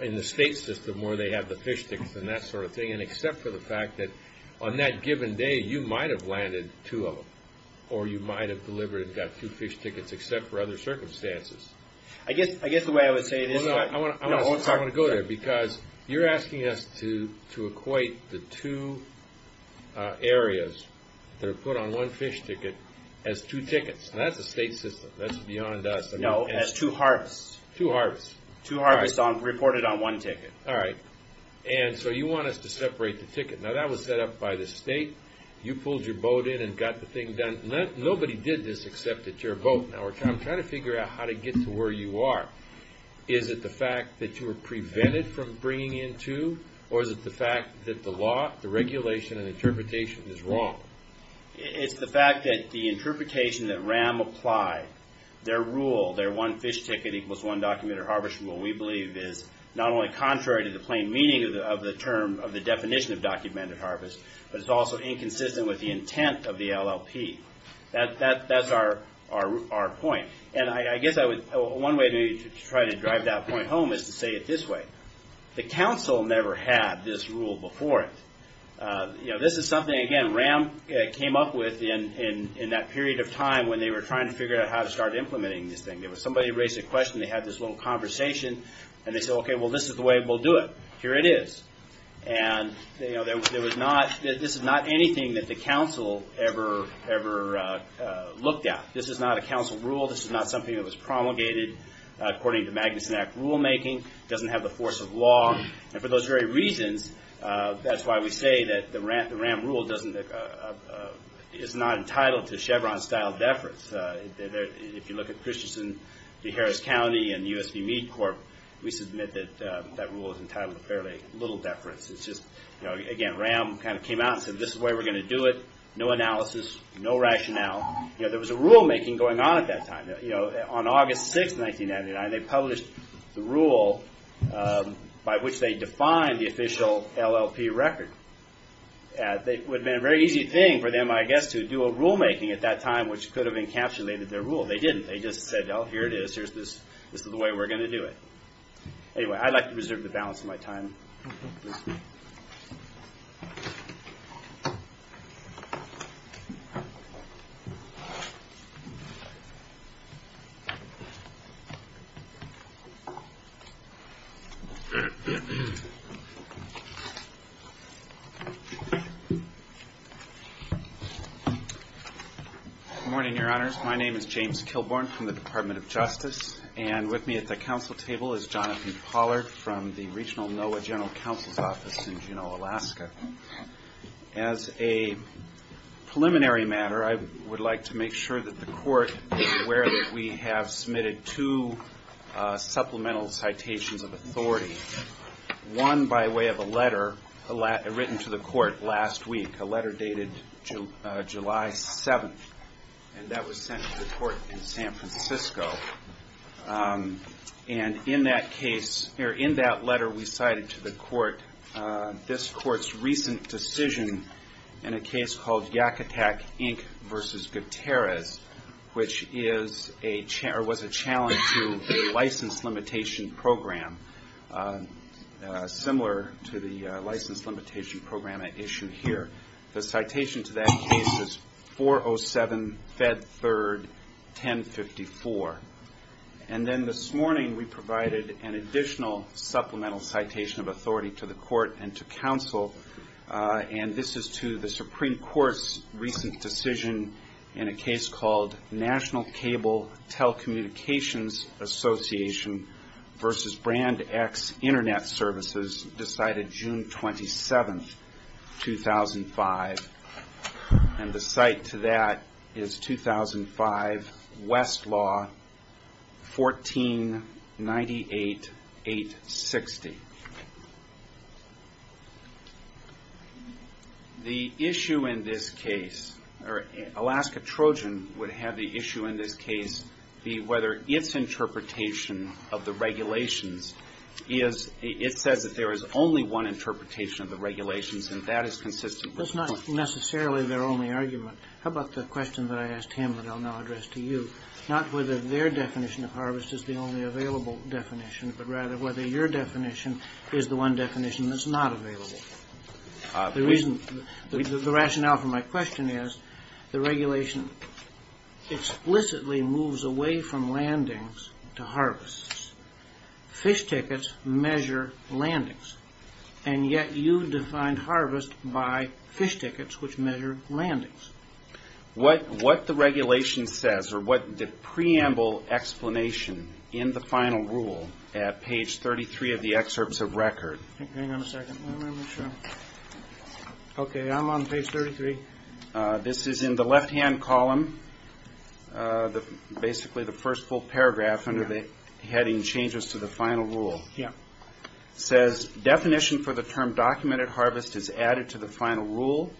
in the state system where they have the fish tickets and that sort of thing, and except for the fact that on that given day you might have landed two of them or you might have delivered, in fact, two fish tickets except for other circumstances. I guess the way I would say it is... No, no, I want to go there because you're asking us to equate the two areas that are put on one fish ticket as two tickets. That's the state system. That's beyond us. No, it has two harvests. Two harvests. Two harvests reported on one ticket. All right. And so you want us to separate the ticket. Now that was set up by the state. You pulled your boat in and got the thing done. Nobody did this except at your boat. Now we're trying to figure out how to get to where you are. Is it the fact that you were prevented from bringing in two or is it the fact that the law, the regulation, and interpretation is wrong? It's the fact that the interpretation that RAM applied, their rule, their one fish ticket equals one documented harvest rule, we believe is not only contrary to the plain meaning of the term, of the definition of documented harvest, but it's also inconsistent with the intent of the LLP. That's our point. And I guess one way to try to drive that point home is to say it this way. The council never had this rule before. This is something, again, RAM came up with in that period of time when they were trying to figure out how to start implementing this thing. There was somebody who raised a question, they had this little conversation, and they said, okay, well, this is the way we'll do it. Here it is. And this is not anything that the council ever looked at. This is not a council rule. This is not something that was promulgated according to the Magnuson Act rulemaking. It doesn't have the force of law. And for those very reasons, that's why we say that the RAM rule is not entitled to Chevron-style deference. If you look at Christensen v. Harris County and the USD Meat Corp., we submit that that rule is entitled to fairly little deference. It's just, again, RAM kind of came out and said this is the way we're going to do it, no analysis, no rationale. There was a rulemaking going on at that time. On August 6, 1999, they published the rule by which they defined the official LLP record. It would have been a very easy thing for them, I guess, to do a rulemaking at that time, which could have encapsulated their rule. They didn't. They just said, oh, here it is. This is the way we're going to do it. Anyway, I'd like to reserve the balance of my time. Good morning, Your Honors. My name is James Kilborn from the Department of Justice. And with me at the council table is Jonathan Pollard from the Regional NOAA General Counsel's Office in Juneau, Alaska. As a preliminary matter, I would like to make sure that the court is aware that we have submitted two supplemental citations of authority, one by way of a letter written to the court last week, a letter dated July 7. And that was sent to the court in San Francisco. And in that case or in that letter we cited to the court this court's recent decision in a case called Yakutak, Inc. v. Gutierrez, which was a challenge to a license limitation program similar to the license limitation program I issued here. The citation to that case was 407, Fed 3rd, 1054. And then this morning we provided an additional supplemental citation of authority to the court and to council. And this is to the Supreme Court's recent decision in a case called National Cable Telecommunications Association v. Brand X Internet Services, decided June 27, 2005. And the cite to that is 2005, Westlaw, 1498, 860. The issue in this case, or Alaska Trojan would have the issue in this case be whether its interpretation of the regulations is, it said that there is only one interpretation of the regulations, and that is consistent with... That's not necessarily their only argument. How about the question that I asked him that I'll now address to you, not whether their definition of harvest is the only available definition, but rather whether your definition is the one definition that's not available. The rationale for my question is the regulation explicitly moves away from landings to harvests. Fish tickets measure landings. And yet you define harvest by fish tickets, which measure landings. What the regulation says, or what the preamble explanation in the final rule at page 33 of the excerpts of record... Hang on a second. Okay, I'm on page 33. This is in the left-hand column, basically the first full paragraph under the heading Changes to the Final Rule. It says, definition for the term documented harvest is added to the final rule.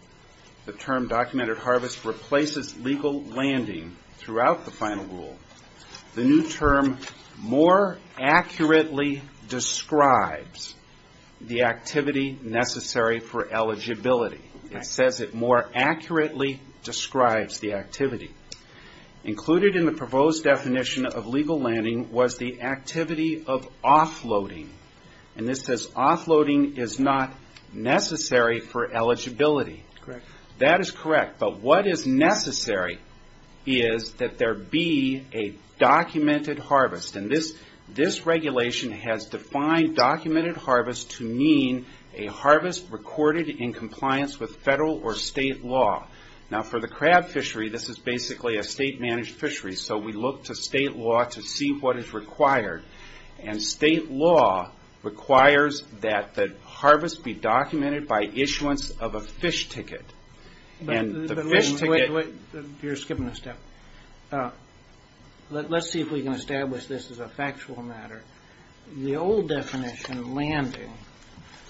The term documented harvest replaces legal landing throughout the final rule. The new term more accurately describes the activity necessary for eligibility. It says it more accurately describes the activity. Included in the proposed definition of legal landing was the activity of offloading. And this says offloading is not necessary for eligibility. That is correct. But what is necessary is that there be a documented harvest. And this regulation has defined documented harvest to mean a harvest recorded in compliance with federal or state law. Now, for the crab fishery, this is basically a state-managed fishery. So we look to state law to see what is required. And state law requires that the harvest be documented by issuance of a fish ticket. And the fish ticket... You're skipping a step. Let's see if we can establish this as a factual matter. The old definition of landing,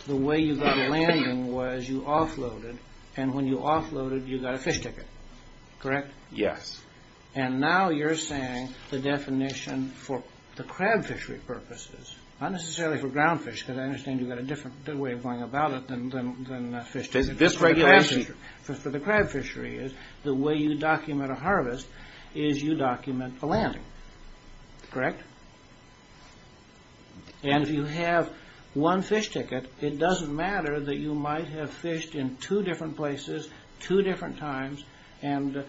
the way you got landing was you offloaded. And when you offloaded, you got a fish ticket. Correct? Yes. And now you're saying the definition for the crab fishery purposes, not necessarily for ground fish, because I understand you've got a different way of going about it than a fish ticket. It's a different regulation. For the crab fishery, the way you document a harvest is you document the landing. Correct? And if you have one fish ticket, it doesn't matter that you might have fished in two different places, two different times, and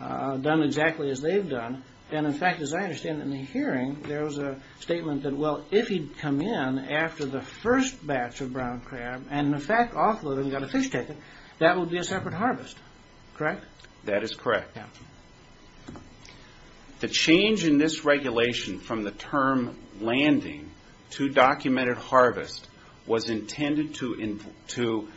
done exactly as they've done. And, in fact, as I understand it in the hearing, there was a statement that, well, if he'd come in after the first batch of brown crab and, in fact, offloaded and got a fish ticket, that would be a separate harvest. Correct? That is correct. The change in this regulation from the term landing to documented harvest was intended to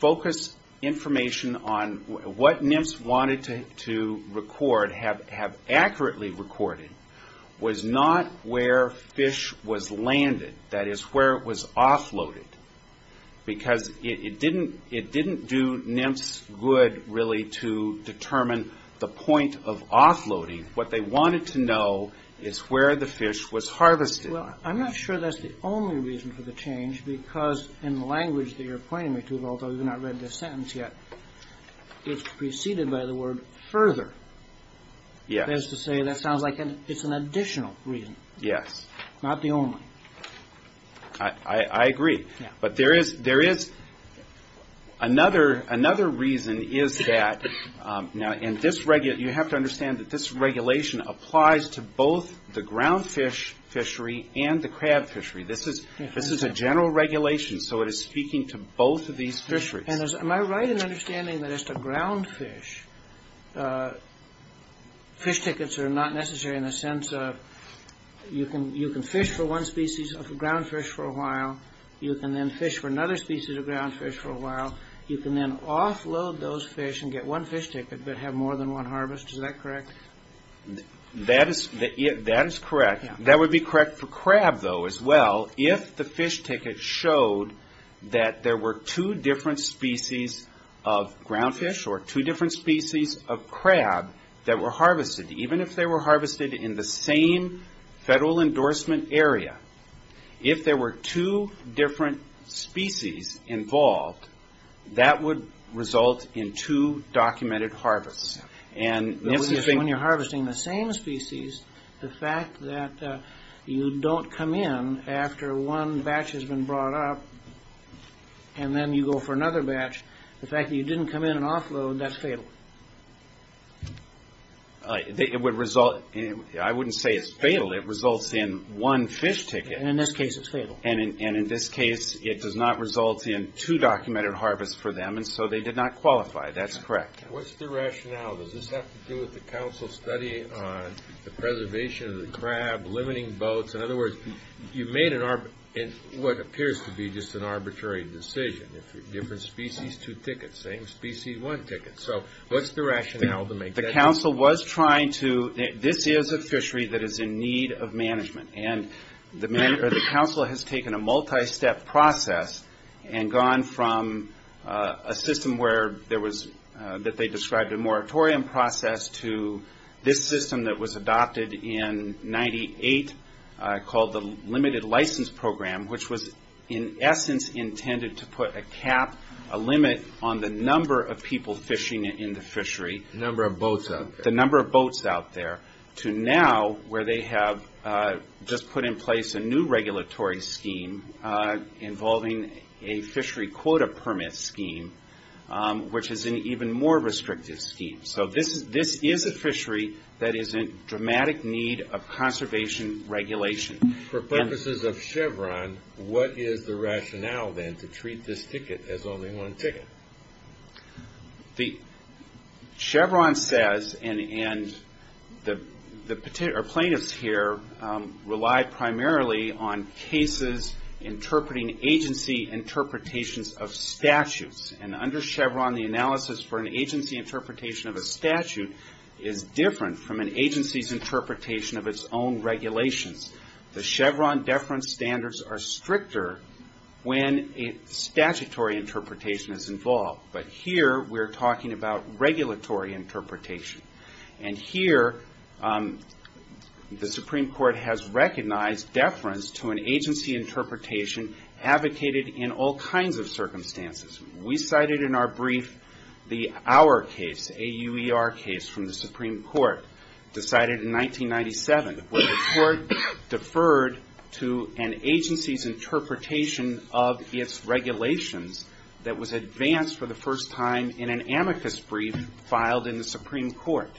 focus information on what NMFS wanted to record, have accurately recorded, was not where fish was landed. That is where it was offloaded. Because it didn't do NMFS good, really, to determine the point of offloading. What they wanted to know is where the fish was harvested. Well, I'm not sure that's the only reason for the change, because in the language that you're pointing me to, although I've not read the sentence yet, it's preceded by the word further. That is to say, that sounds like it's an additional reason, not the only. I agree. But there is another reason is that, you have to understand that this regulation applies to both the ground fish fishery and the crab fishery. This is a general regulation, so it is speaking to both of these fisheries. Am I right in understanding that as to ground fish, fish tickets are not necessary in the sense of you can fish for one species of ground fish for a while. You can then fish for another species of ground fish for a while. You can then offload those fish and get one fish ticket but have more than one harvest. Is that correct? That is correct. That would be correct for crab, though, as well. If the fish ticket showed that there were two different species of ground fish or two different species of crab that were harvested, even if they were harvested in the same federal endorsement area, if there were two different species involved, that would result in two documented harvests. When you're harvesting the same species, the fact that you don't come in after one batch has been brought up and then you go for another batch, the fact that you didn't come in and offload, that's fatal. I wouldn't say it's fatal. It results in one fish ticket. In this case, it's fatal. In this case, it does not result in two documented harvests for them, so they did not qualify. That's correct. What's the rationale? Does this have to do with the council's study on the preservation of the crab, limiting boats? In other words, you made what appears to be just an arbitrary decision. Different species, two tickets. Same species, one ticket. So what's the rationale to make that decision? The council was trying to – this is a fishery that is in need of management, and the council has taken a multi-step process and gone from a system that they described a moratorium process to this system that was adopted in 1998 called the Limited License Program, which was in essence intended to put a cap, a limit on the number of people fishing in the fishery. The number of boats out there. The number of boats out there to now where they have just put in place a new regulatory scheme involving a fishery quota permit scheme, which is an even more restrictive scheme. So this is a fishery that is in dramatic need of conservation regulation. For purposes of Chevron, what is the rationale then to treat this ticket as only one ticket? Chevron says, and the plaintiffs here rely primarily on cases interpreting agency interpretations of statutes. And under Chevron, the analysis for an agency interpretation of a statute is different from an agency's interpretation of its own regulations. The Chevron deference standards are stricter when a statutory interpretation is involved. But here we're talking about regulatory interpretation. And here the Supreme Court has recognized deference to an agency interpretation advocated in all kinds of circumstances. We cited in our brief our case, the AUER case from the Supreme Court decided in 1997 where the court deferred to an agency's interpretation of its regulations that was advanced for the first time in an amicus brief filed in the Supreme Court.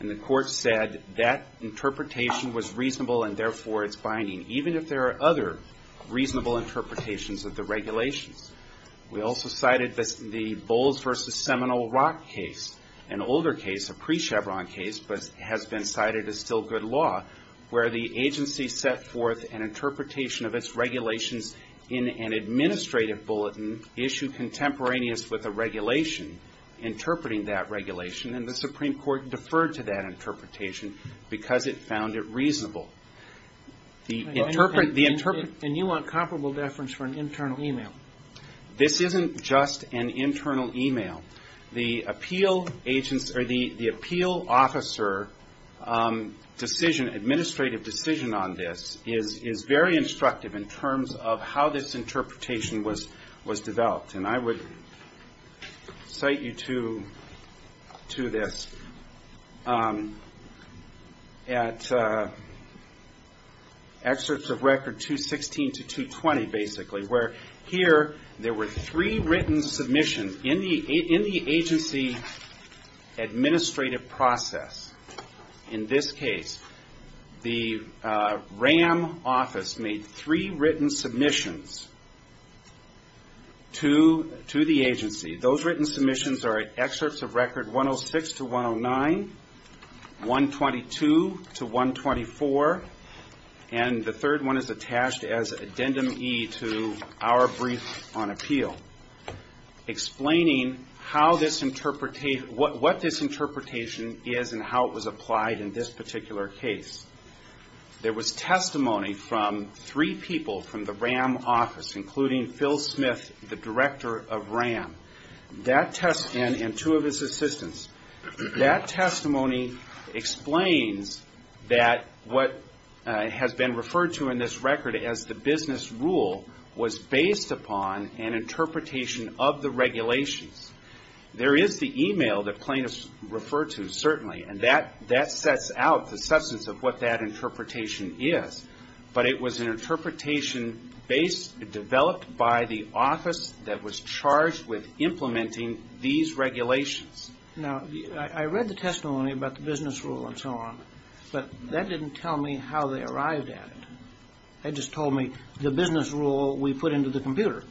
And the court said that interpretation was reasonable and therefore it's binding. Even if there are other reasonable interpretations of the regulations. We also cited the Bowles v. Seminole Rock case. An older case, a pre-Chevron case, but has been cited as still good law where the agency set forth an interpretation of its regulations in an administrative bulletin issued contemporaneous with a regulation interpreting that regulation. And the Supreme Court deferred to that interpretation because it found it reasonable. And you want comparable deference for an internal email? This isn't just an internal email. The appeal officer decision, administrative decision on this is very instructive in terms of how this interpretation was developed. And I would cite you to this at Excerpts of Record 216 to 220 basically where here there were three written submissions in the agency administrative process. In this case, the RAM office made three written submissions to the agency. Those written submissions are Excerpts of Record 106 to 109, 122 to 124, and the third one is attached as addendum E to our brief on appeal explaining what this interpretation is and how it was applied in this particular case. There was testimony from three people from the RAM office, including Phil Smith, the director of RAM, and two of his assistants. That testimony explains that what has been referred to in this record as the business rule was based upon an interpretation of the regulations. There is the email that plaintiffs referred to, certainly, and that sets out the substance of what that interpretation is. But it was an interpretation developed by the office that was charged with implementing these regulations. Now, I read the testimony about the business rule and so on, but that didn't tell me how they arrived at it. That just told me the business rule we put into the computer.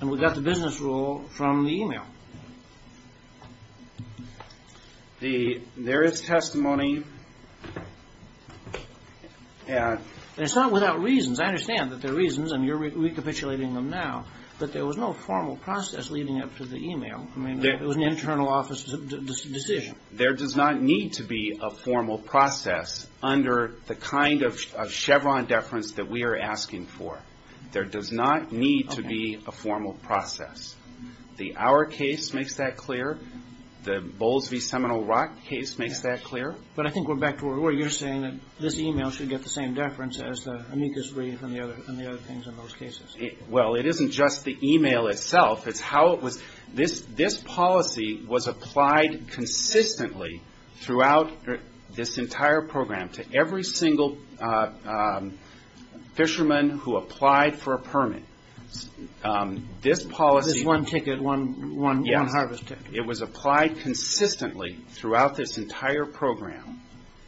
And we got the business rule from the email. There is testimony... It's not without reasons. I understand that there are reasons, and you're recapitulating them now, but there was no formal process leading up to the email. It was an internal office decision. There does not need to be a formal process under the kind of Chevron deference that we are asking for. There does not need to be a formal process. The Auer case makes that clear. The Bowles v. Seminole Rock case makes that clear. But I think we're back to where you're saying that this email should get the same deference as the amicus brief and the other things in those cases. Well, it isn't just the email itself. This policy was applied consistently throughout this entire program to every single fisherman who applied for a permit. This policy... This one ticket, one harvest ticket. It was applied consistently throughout this entire program.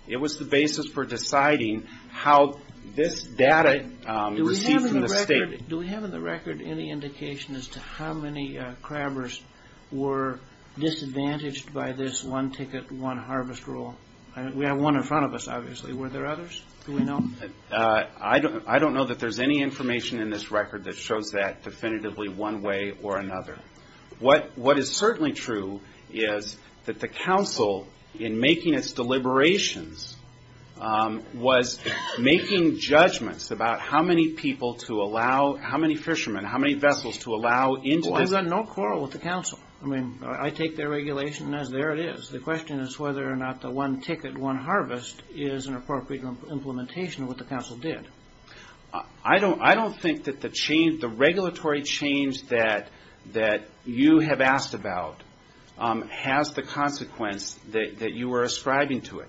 It was the basis for deciding how this data received from the state. Do we have in the record any indication as to how many crabbers were disadvantaged by this one ticket, one harvest rule? We have one in front of us, obviously. Were there others? Do we know? I don't know that there's any information in this record that shows that definitively one way or another. What is certainly true is that the council, in making its deliberations, was making judgments about how many people to allow, how many fishermen, how many vessels to allow into the... Well, I've got no quarrel with the council. I mean, I take their regulation as there it is. The question is whether or not the one ticket, one harvest is an appropriate implementation of what the council did. I don't think that the change, the regulatory change that you have asked about has the consequence that you are ascribing to it.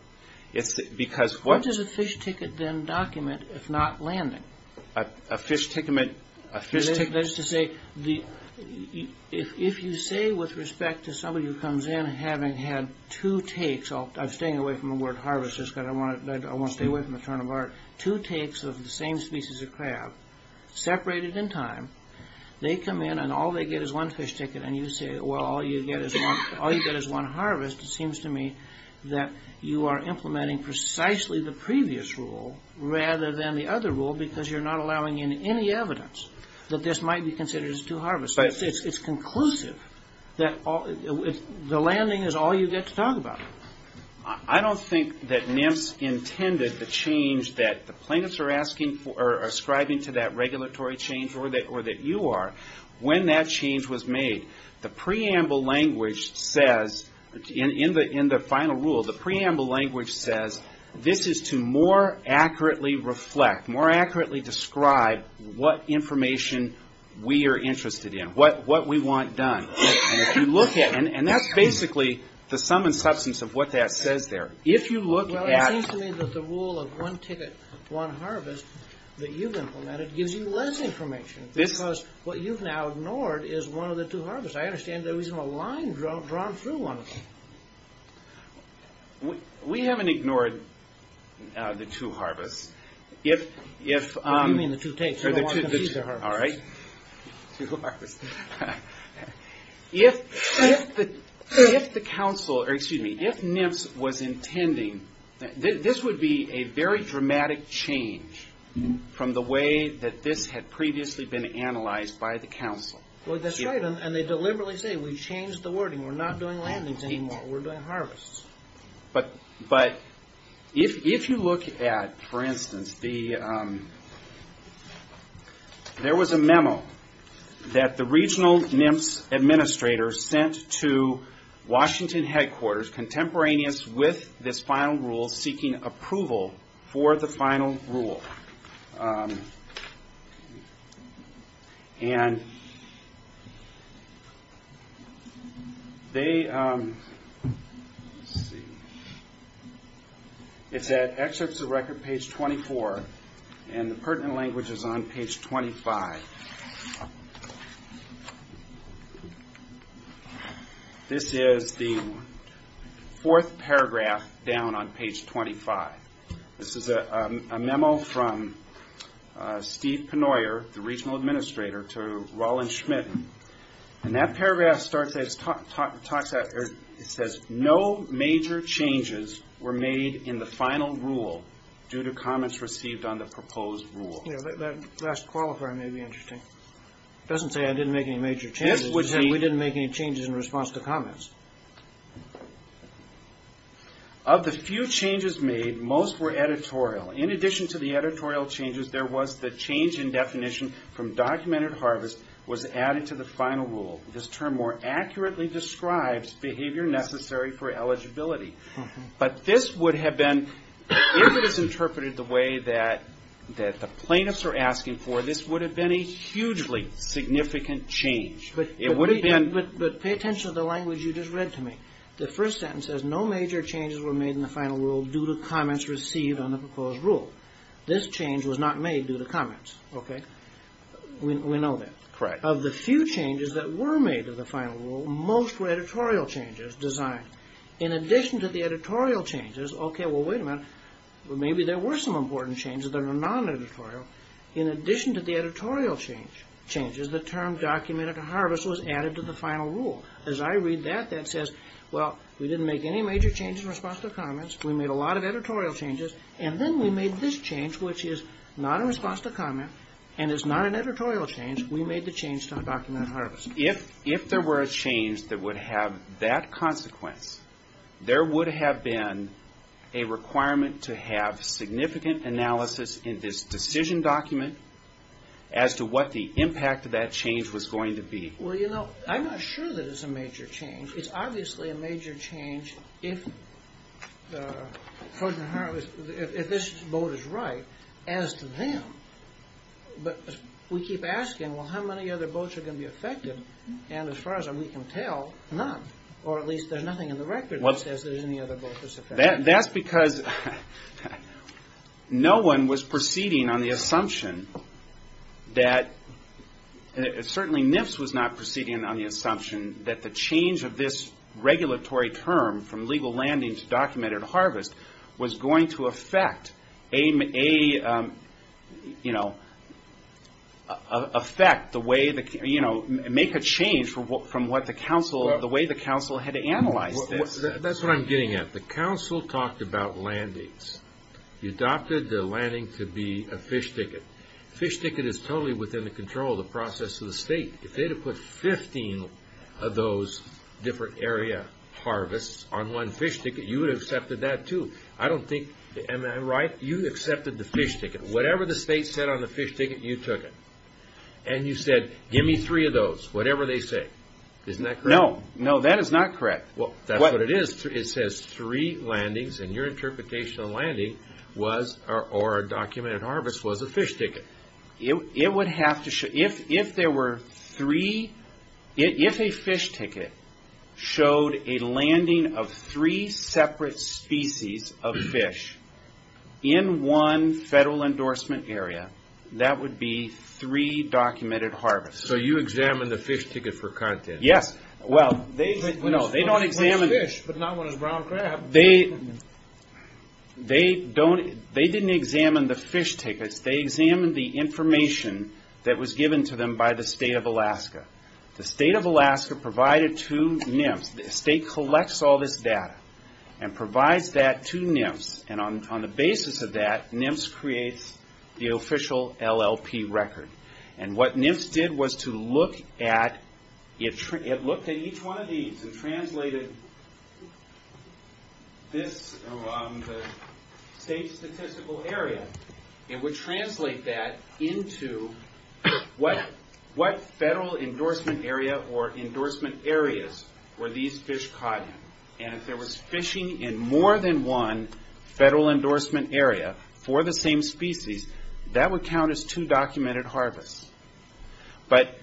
What does a fish ticket then document if not landing? A fish ticket... That is to say, if you say with respect to somebody who comes in having had two takes, I'm staying away from the word harvest. I won't stay away from the term of art. Two takes of the same species of crab, separated in time. They come in and all they get is one fish ticket and you say, well, all you get is one harvest. It seems to me that you are implementing precisely the previous rule rather than the other rule because you're not allowing in any evidence that this might be considered as two harvests. It's conclusive that the landing is all you get to talk about. I don't think that NIMS intended the change that the plaintiffs are ascribing to that regulatory change or that you are when that change was made. The preamble language says, in the final rule, the preamble language says, this is to more accurately reflect, more accurately describe what information we are interested in, what we want done. That's basically the sum and substance of what that says there. If you look at... Because what you've now ignored is one of the two harvests. I understand there is no line drawn through one of them. We haven't ignored the two harvests. What do you mean the two takes? All right. If the council, or excuse me, if NIMS was intending, this would be a very dramatic change from the way that this had previously been analyzed by the council. That's right, and they deliberately say, we've changed the wording. We're not doing landings anymore. We're doing harvests. But if you look at, for instance, there was a memo that the regional NIMS administrator sent to Washington headquarters, which was contemporaneous with this final rule, seeking approval for the final rule. And they... It's at Excerpts of Record, page 24, and the pertinent language is on page 25. This is the fourth paragraph down on page 25. This is a memo from Steve Penoyer, the regional administrator, to Roland Schmidt. And that paragraph starts out, it says, no major changes were made in the final rule due to comments received on the proposed rule. That last qualifier may be interesting. It doesn't say I didn't make any major changes. We didn't make any changes in response to comments. Of the few changes made, most were editorial. In addition to the editorial changes, there was the change in definition from documented harvest was added to the final rule. This term more accurately describes behavior necessary for eligibility. But this would have been, if it was interpreted the way that the plaintiffs are asking for, this would have been a hugely significant change. But pay attention to the language you just read to me. The first sentence says, no major changes were made in the final rule due to comments received on the proposed rule. This change was not made due to comments. We know that. Of the few changes that were made to the final rule, most were editorial changes designed. In addition to the editorial changes, okay, well, wait a minute. Maybe there were some important changes that are non-editorial. In addition to the editorial changes, the term documented harvest was added to the final rule. As I read that, that says, well, we didn't make any major changes in response to comments. We made a lot of editorial changes. And then we made this change, which is not in response to comment and is not an editorial change. We made the change to undocumented harvest. If there were a change that would have that consequence, there would have been a requirement to have significant analysis in this decision document as to what the impact of that change was going to be. Well, you know, I'm not sure that it's a major change. It's obviously a major change if this vote is right as to them. But we keep asking, well, how many other votes are going to be affected? And as far as we can tell, none. Or at least there's nothing in the record that says that any other vote was affected. That's because no one was proceeding on the assumption that, certainly NIPS was not proceeding on the assumption that the change of this regulatory term from legal landing to documented harvest was going to affect the way the council had analyzed this. That's what I'm getting at. The council talked about landings. You adopted the landing to be a fish ticket. Fish ticket is totally within the control of the process of the state. If they had put 15 of those different area harvests on one fish ticket, you would have accepted that, too. I don't think, am I right? You accepted the fish ticket. Whatever the state said on the fish ticket, you took it. And you said, give me three of those, whatever they say. Isn't that correct? No. No, that is not correct. That's what it is. It says three landings, and your interpretation of landing was, or documented harvest, was a fish ticket. If a fish ticket showed a landing of three separate species of fish in one federal endorsement area, that would be three documented harvests. So you examined the fish ticket for content. Yes. No, they don't examine the fish. But not one of the brown crab. They didn't examine the fish ticket. They examined the information that was given to them by the state of Alaska. The state of Alaska provided to NIMS, the state collects all this data and provides that to NIMS. And on the basis of that, NIMS creates the official LLP record. And what NIMS did was to look at each one of these and translated this around the state statistical area. It would translate that into what federal endorsement area or endorsement areas were these fish caught in. And if there was fishing in more than one federal endorsement area for the same species, that would count as two documented harvests. But,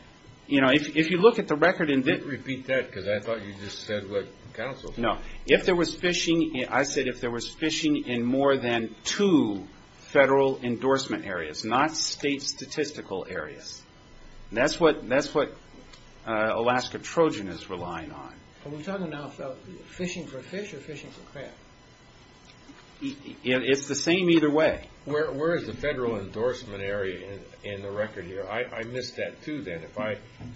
you know, if you look at the record and didn't... You didn't repeat that because I thought you just said, like, counsel. No. If there was fishing, I said if there was fishing in more than two federal endorsement areas, not state statistical areas. That's what Alaska Trojan is relying on. Are we talking now about fishing for fish or fishing for crab? It's the same either way. Where is the federal endorsement area in the record here? I missed that, too, then.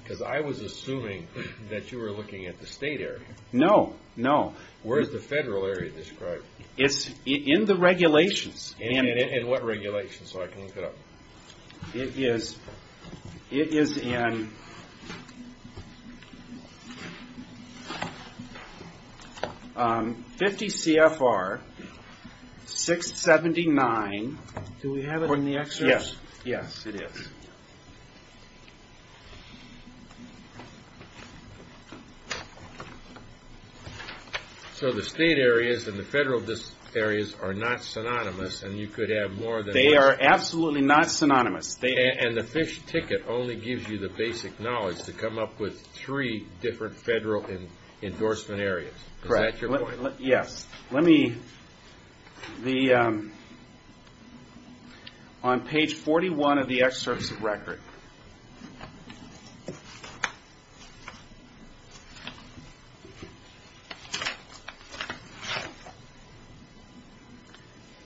Because I was assuming that you were looking at the state area. No, no. Where is the federal area described? It's in the regulations. In what regulations? It is in 50 CFR 679. Do we have it in the excerpts? Yes. Yes, it is. So the state areas and the federal areas are not synonymous and you could add more than one. They are absolutely not synonymous. And the fish ticket only gives you the basic knowledge to come up with three different federal endorsement areas. Correct. Yes. Let me... On page 41 of the excerpts of record...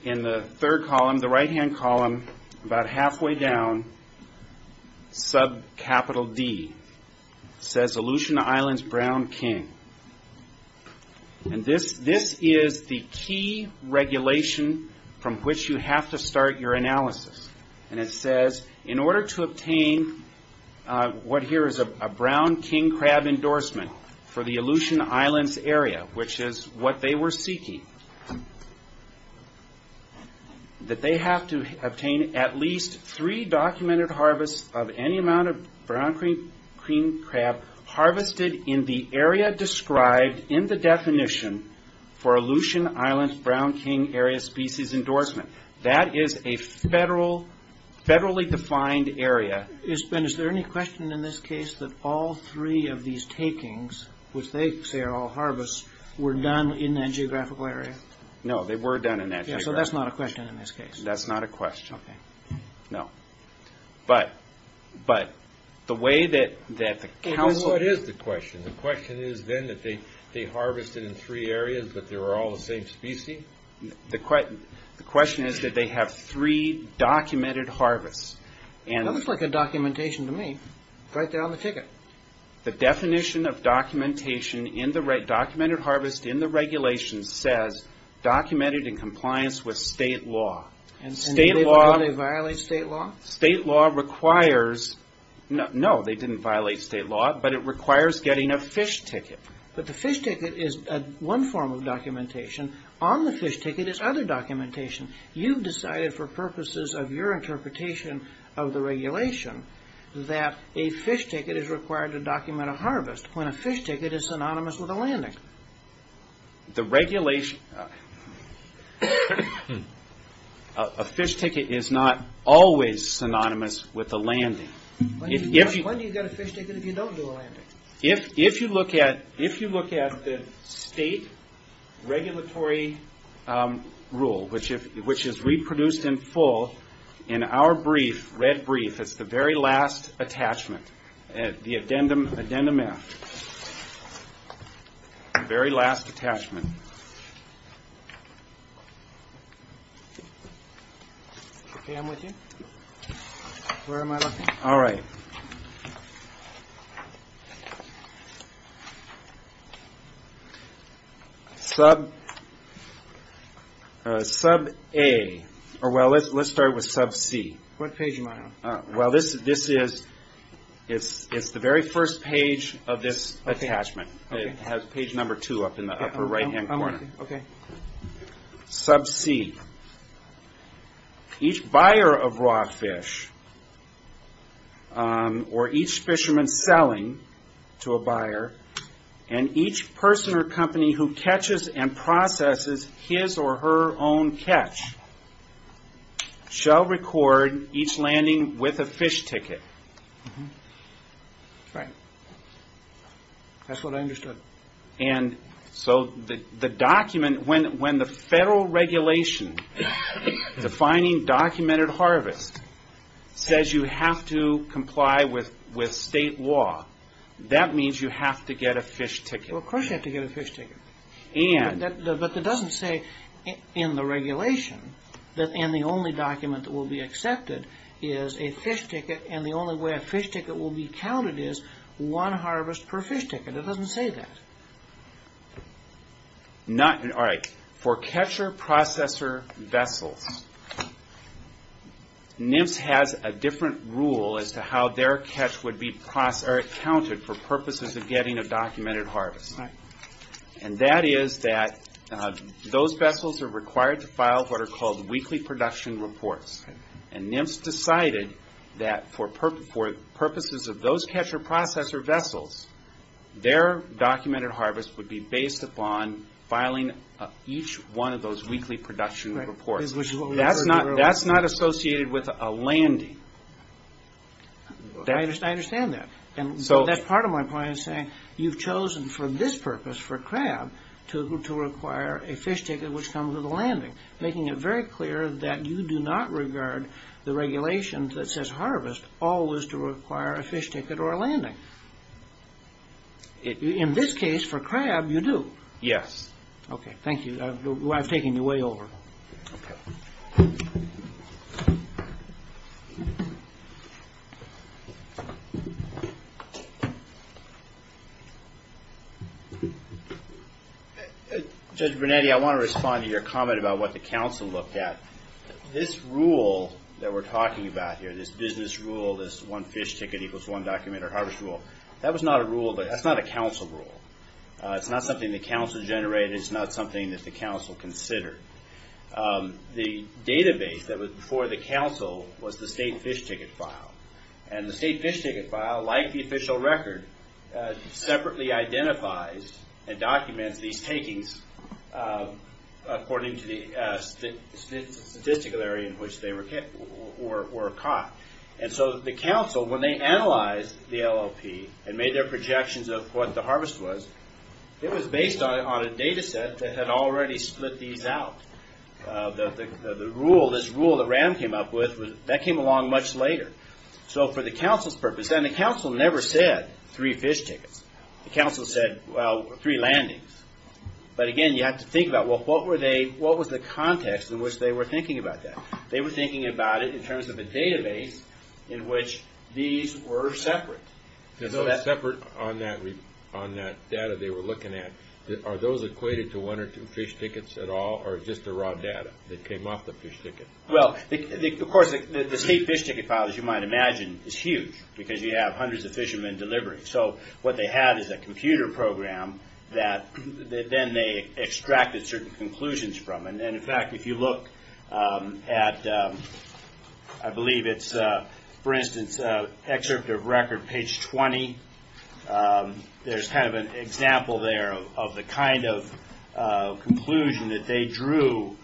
In the third column, the right-hand column, about halfway down, subcapital D, says Aleutian Islands Brown King. And this is the key regulation from which you have to start your analysis. And it says, in order to obtain what here is a Brown King crab endorsement for the Aleutian Islands area, which is what they were seeking, that they have to obtain at least three documented harvests of any amount of Brown King crab harvested in the area described in the definition for Aleutian Islands Brown King area species endorsement. That is a federally defined area. And is there any question in this case that all three of these takings, which they say are all harvests, were done in that geographical area? No, they were done in that geographical area. So that's not a question in this case? That's not a question. Okay. No. But the way that... What is the question? The question is then that they harvested in three areas, but they were all the same species? The question is that they have three documented harvests. That looks like a documentation to me. Right there on the ticket. The definition of documented harvest in the regulation says documented in compliance with state law. And did they violate state law? State law requires... No, they didn't violate state law, but it requires getting a fish ticket. But the fish ticket is one form of documentation. On the fish ticket is other documentation. You've decided for purposes of your interpretation of the regulation that a fish ticket is required to document a harvest when a fish ticket is synonymous with a landing. The regulation... A fish ticket is not always synonymous with a landing. When do you get a fish ticket if you don't do a landing? If you look at the state regulatory rule, which is reproduced in full in our brief, red brief, it's the very last attachment, the addendum F, the very last attachment. Okay, I'm with you. Where am I looking? All right. Sub A, or well, let's start with Sub C. What page am I on? Well, this is... It's the very first page of this attachment. It has page number two up in the upper right-hand corner. Okay. Sub C. Each buyer of raw fish, or each fisherman selling to a buyer, and each person or company who catches and processes his or her own catch, shall record each landing with a fish ticket. Right. That's what I understood. So the document, when the federal regulation defining documented harvest says you have to comply with state law, that means you have to get a fish ticket. Of course you have to get a fish ticket. But it doesn't say in the regulation, and the only document that will be accepted is a fish ticket, and the only way a fish ticket will be counted is one harvest per fish ticket. It doesn't say that. All right. For catcher-processor vessels, NIMS has a different rule as to how their catch would be counted for purposes of getting a documented harvest. Right. And that is that those vessels are required to file what are called weekly production reports. And NIMS decided that for purposes of those catcher-processor vessels, their documented harvest would be based upon filing each one of those weekly production reports. That's not associated with a landing. I understand that. And that's part of my point of saying you've chosen for this purpose, for crab, to require a fish ticket which comes with a landing, making it very clear that you do not regard the regulations that says harvest always to require a fish ticket or a landing. In this case, for crab, you do. Yes. Okay. Thank you. I'm taking you way over. Go. Judge Bernande, I want to respond to your comment about what the council looked at. This rule that we're talking about here, this business rule, this one fish ticket equals one documented harvest rule, that was not a rule. That's not a council rule. It's not something the council generated. It's not something that the council considered. The database that was before the council was the state fish ticket file. And the state fish ticket file, like the official record, separately identifies and documents these takings according to the statistical area in which they were caught. And so the council, when they analyzed the LLP and made their projections of what the harvest was, it was based on a data set that had already split these out. The rule, this rule that Rand came up with, that came along much later. So for the council's purpose, and the council never said three fish tickets. The council said, well, three landings. But again, you have to think about, well, what was the context in which they were thinking about that? They were thinking about it in terms of the database in which these were separate. Separate on that data they were looking at. Are those equated to one or two fish tickets at all, or just the raw data that came off the fish ticket? Well, of course, the state fish ticket file, as you might imagine, is huge, because you have hundreds of fishermen delivering. So what they had is a computer program that then they extracted certain conclusions from. And in fact, if you look at, I believe it's, for instance, excerpt of record page 20, there's kind of an example there of the kind of conclusion that they drew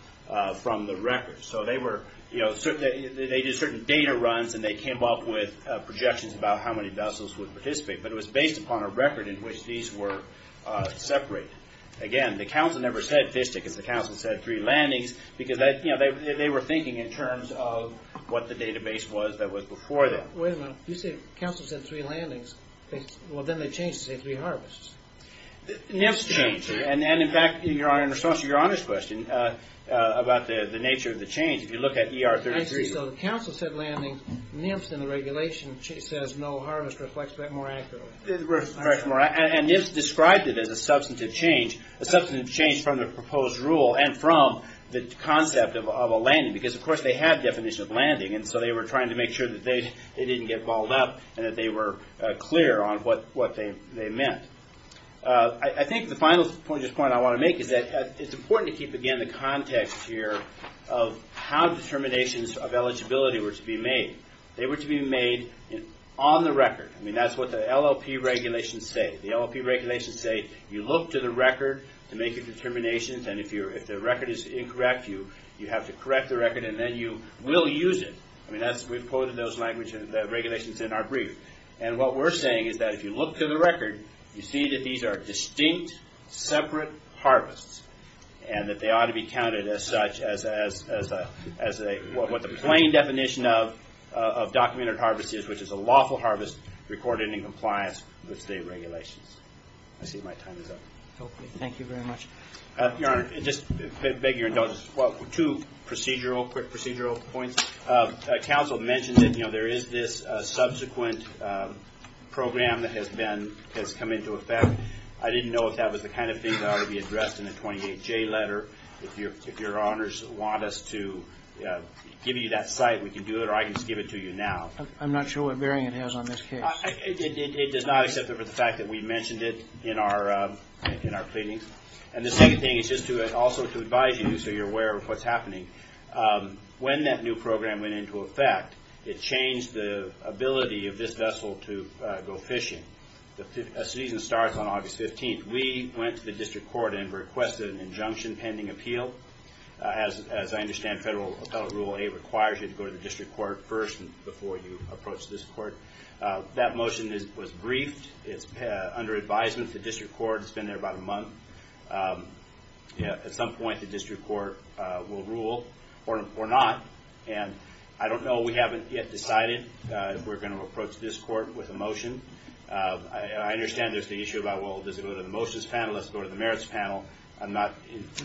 from the record. So they were, you know, they did certain data runs, and they came up with projections about how many vessels would participate. But it was based upon a record in which these were separated. Again, the council members had fish tickets. The council said three landings, because, you know, they were thinking in terms of what the database was that was before them. Wait a minute. You said the council said three landings. Well, then they changed to say three harvests. Nymphs changed. And in fact, in response to your honest question about the nature of the change, if you look at ER 33. So the council said landings. Nymphs in the regulation says no harvest reflects that more accurately. And Nymphs described it as a substantive change, a substantive change from the proposed rule and from the concept of a landing, because, of course, they have definitions of landing. And so they were trying to make sure that they didn't get balled up and that they were clear on what they meant. I think the final point I want to make is that it's important to keep, again, the context here of how determinations of eligibility were to be made. They were to be made on the record. I mean, that's what the LLP regulations say. The LLP regulations say you look to the record to make a determination, and if the record is incorrect, you have to correct the record, and then you will use it. I mean, we've quoted those regulations in our brief. And what we're saying is that if you look to the record, you see that these are distinct separate harvests and that they ought to be counted as such as what the plain definition of documented harvest is, which is a lawful harvest recorded in compliance with state regulations. I see my time is up. Thank you very much. Your Honor, I just beg your indulgence. Well, two procedural, quick procedural points. Council mentioned that, you know, there is this subsequent program that has come into effect. I didn't know if that was the kind of thing that ought to be addressed in the 28J letter. If Your Honors want us to give you that site, we can do it, or I can just give it to you now. I'm not sure what bearing it has on this case. It does not except for the fact that we mentioned it in our pleadings. And the second thing is just to also advise you so you're aware of what's happening. When that new program went into effect, it changed the ability of this vessel to go fishing. The season starts on August 15th. We went to the district court and requested an injunction pending appeal. As I understand, Federal Appellate Rule 8 requires you to go to the district court first before you approach this court. That motion was briefed. It's under advisement to district court. It's been there about a month. At some point, the district court will rule or not. And I don't know. We haven't yet decided if we're going to approach this court with a motion. I understand there's the issue about, well, does it go to the motions panel? Does it go to the merits panel? I'm not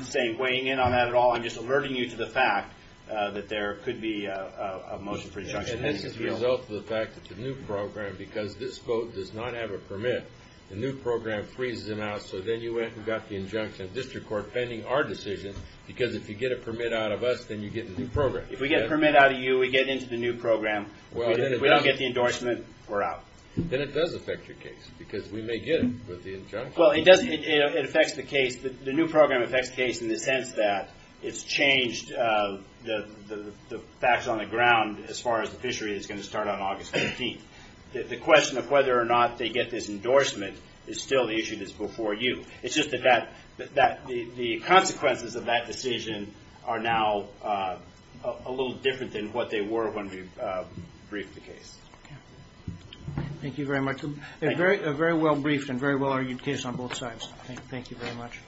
saying weighing in on that at all. I'm just alerting you to the fact that there could be a motion for injunction pending appeal. And this is a result of the fact it's a new program because this boat does not have a permit. The new program frees it out, so then you have to get the injunction of district court pending our decision because if you get a permit out of us, then you get the new program. If we get a permit out of you, we get into the new program. If we don't get the endorsement, we're out. Then it does affect your case because we may get it with the injunction. Well, it affects the case. The new program affects the case in the sense that it's changed the facts on the ground as far as the fishery is going to start on August 18th. The question of whether or not they get this endorsement is still the issue that's before you. It's just that the consequences of that decision are now a little different than what they were when we briefed the case. Thank you very much. It's a very well-briefed and very well-argued case on both sides. Thank you very much.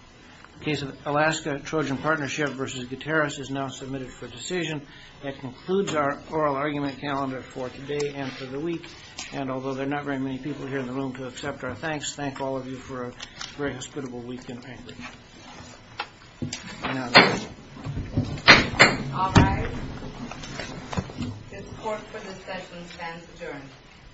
The case of Alaska-Trojan Partnership v. Gutierrez is now submitted for decision. That concludes our oral argument calendar for today and for the week. And although there are not very many people here in the room to accept our thanks, thank all of you for a very hospitable week in Anchorage. Thank you. All rise. The support for this session stands adjourned. Thank you. Thank you.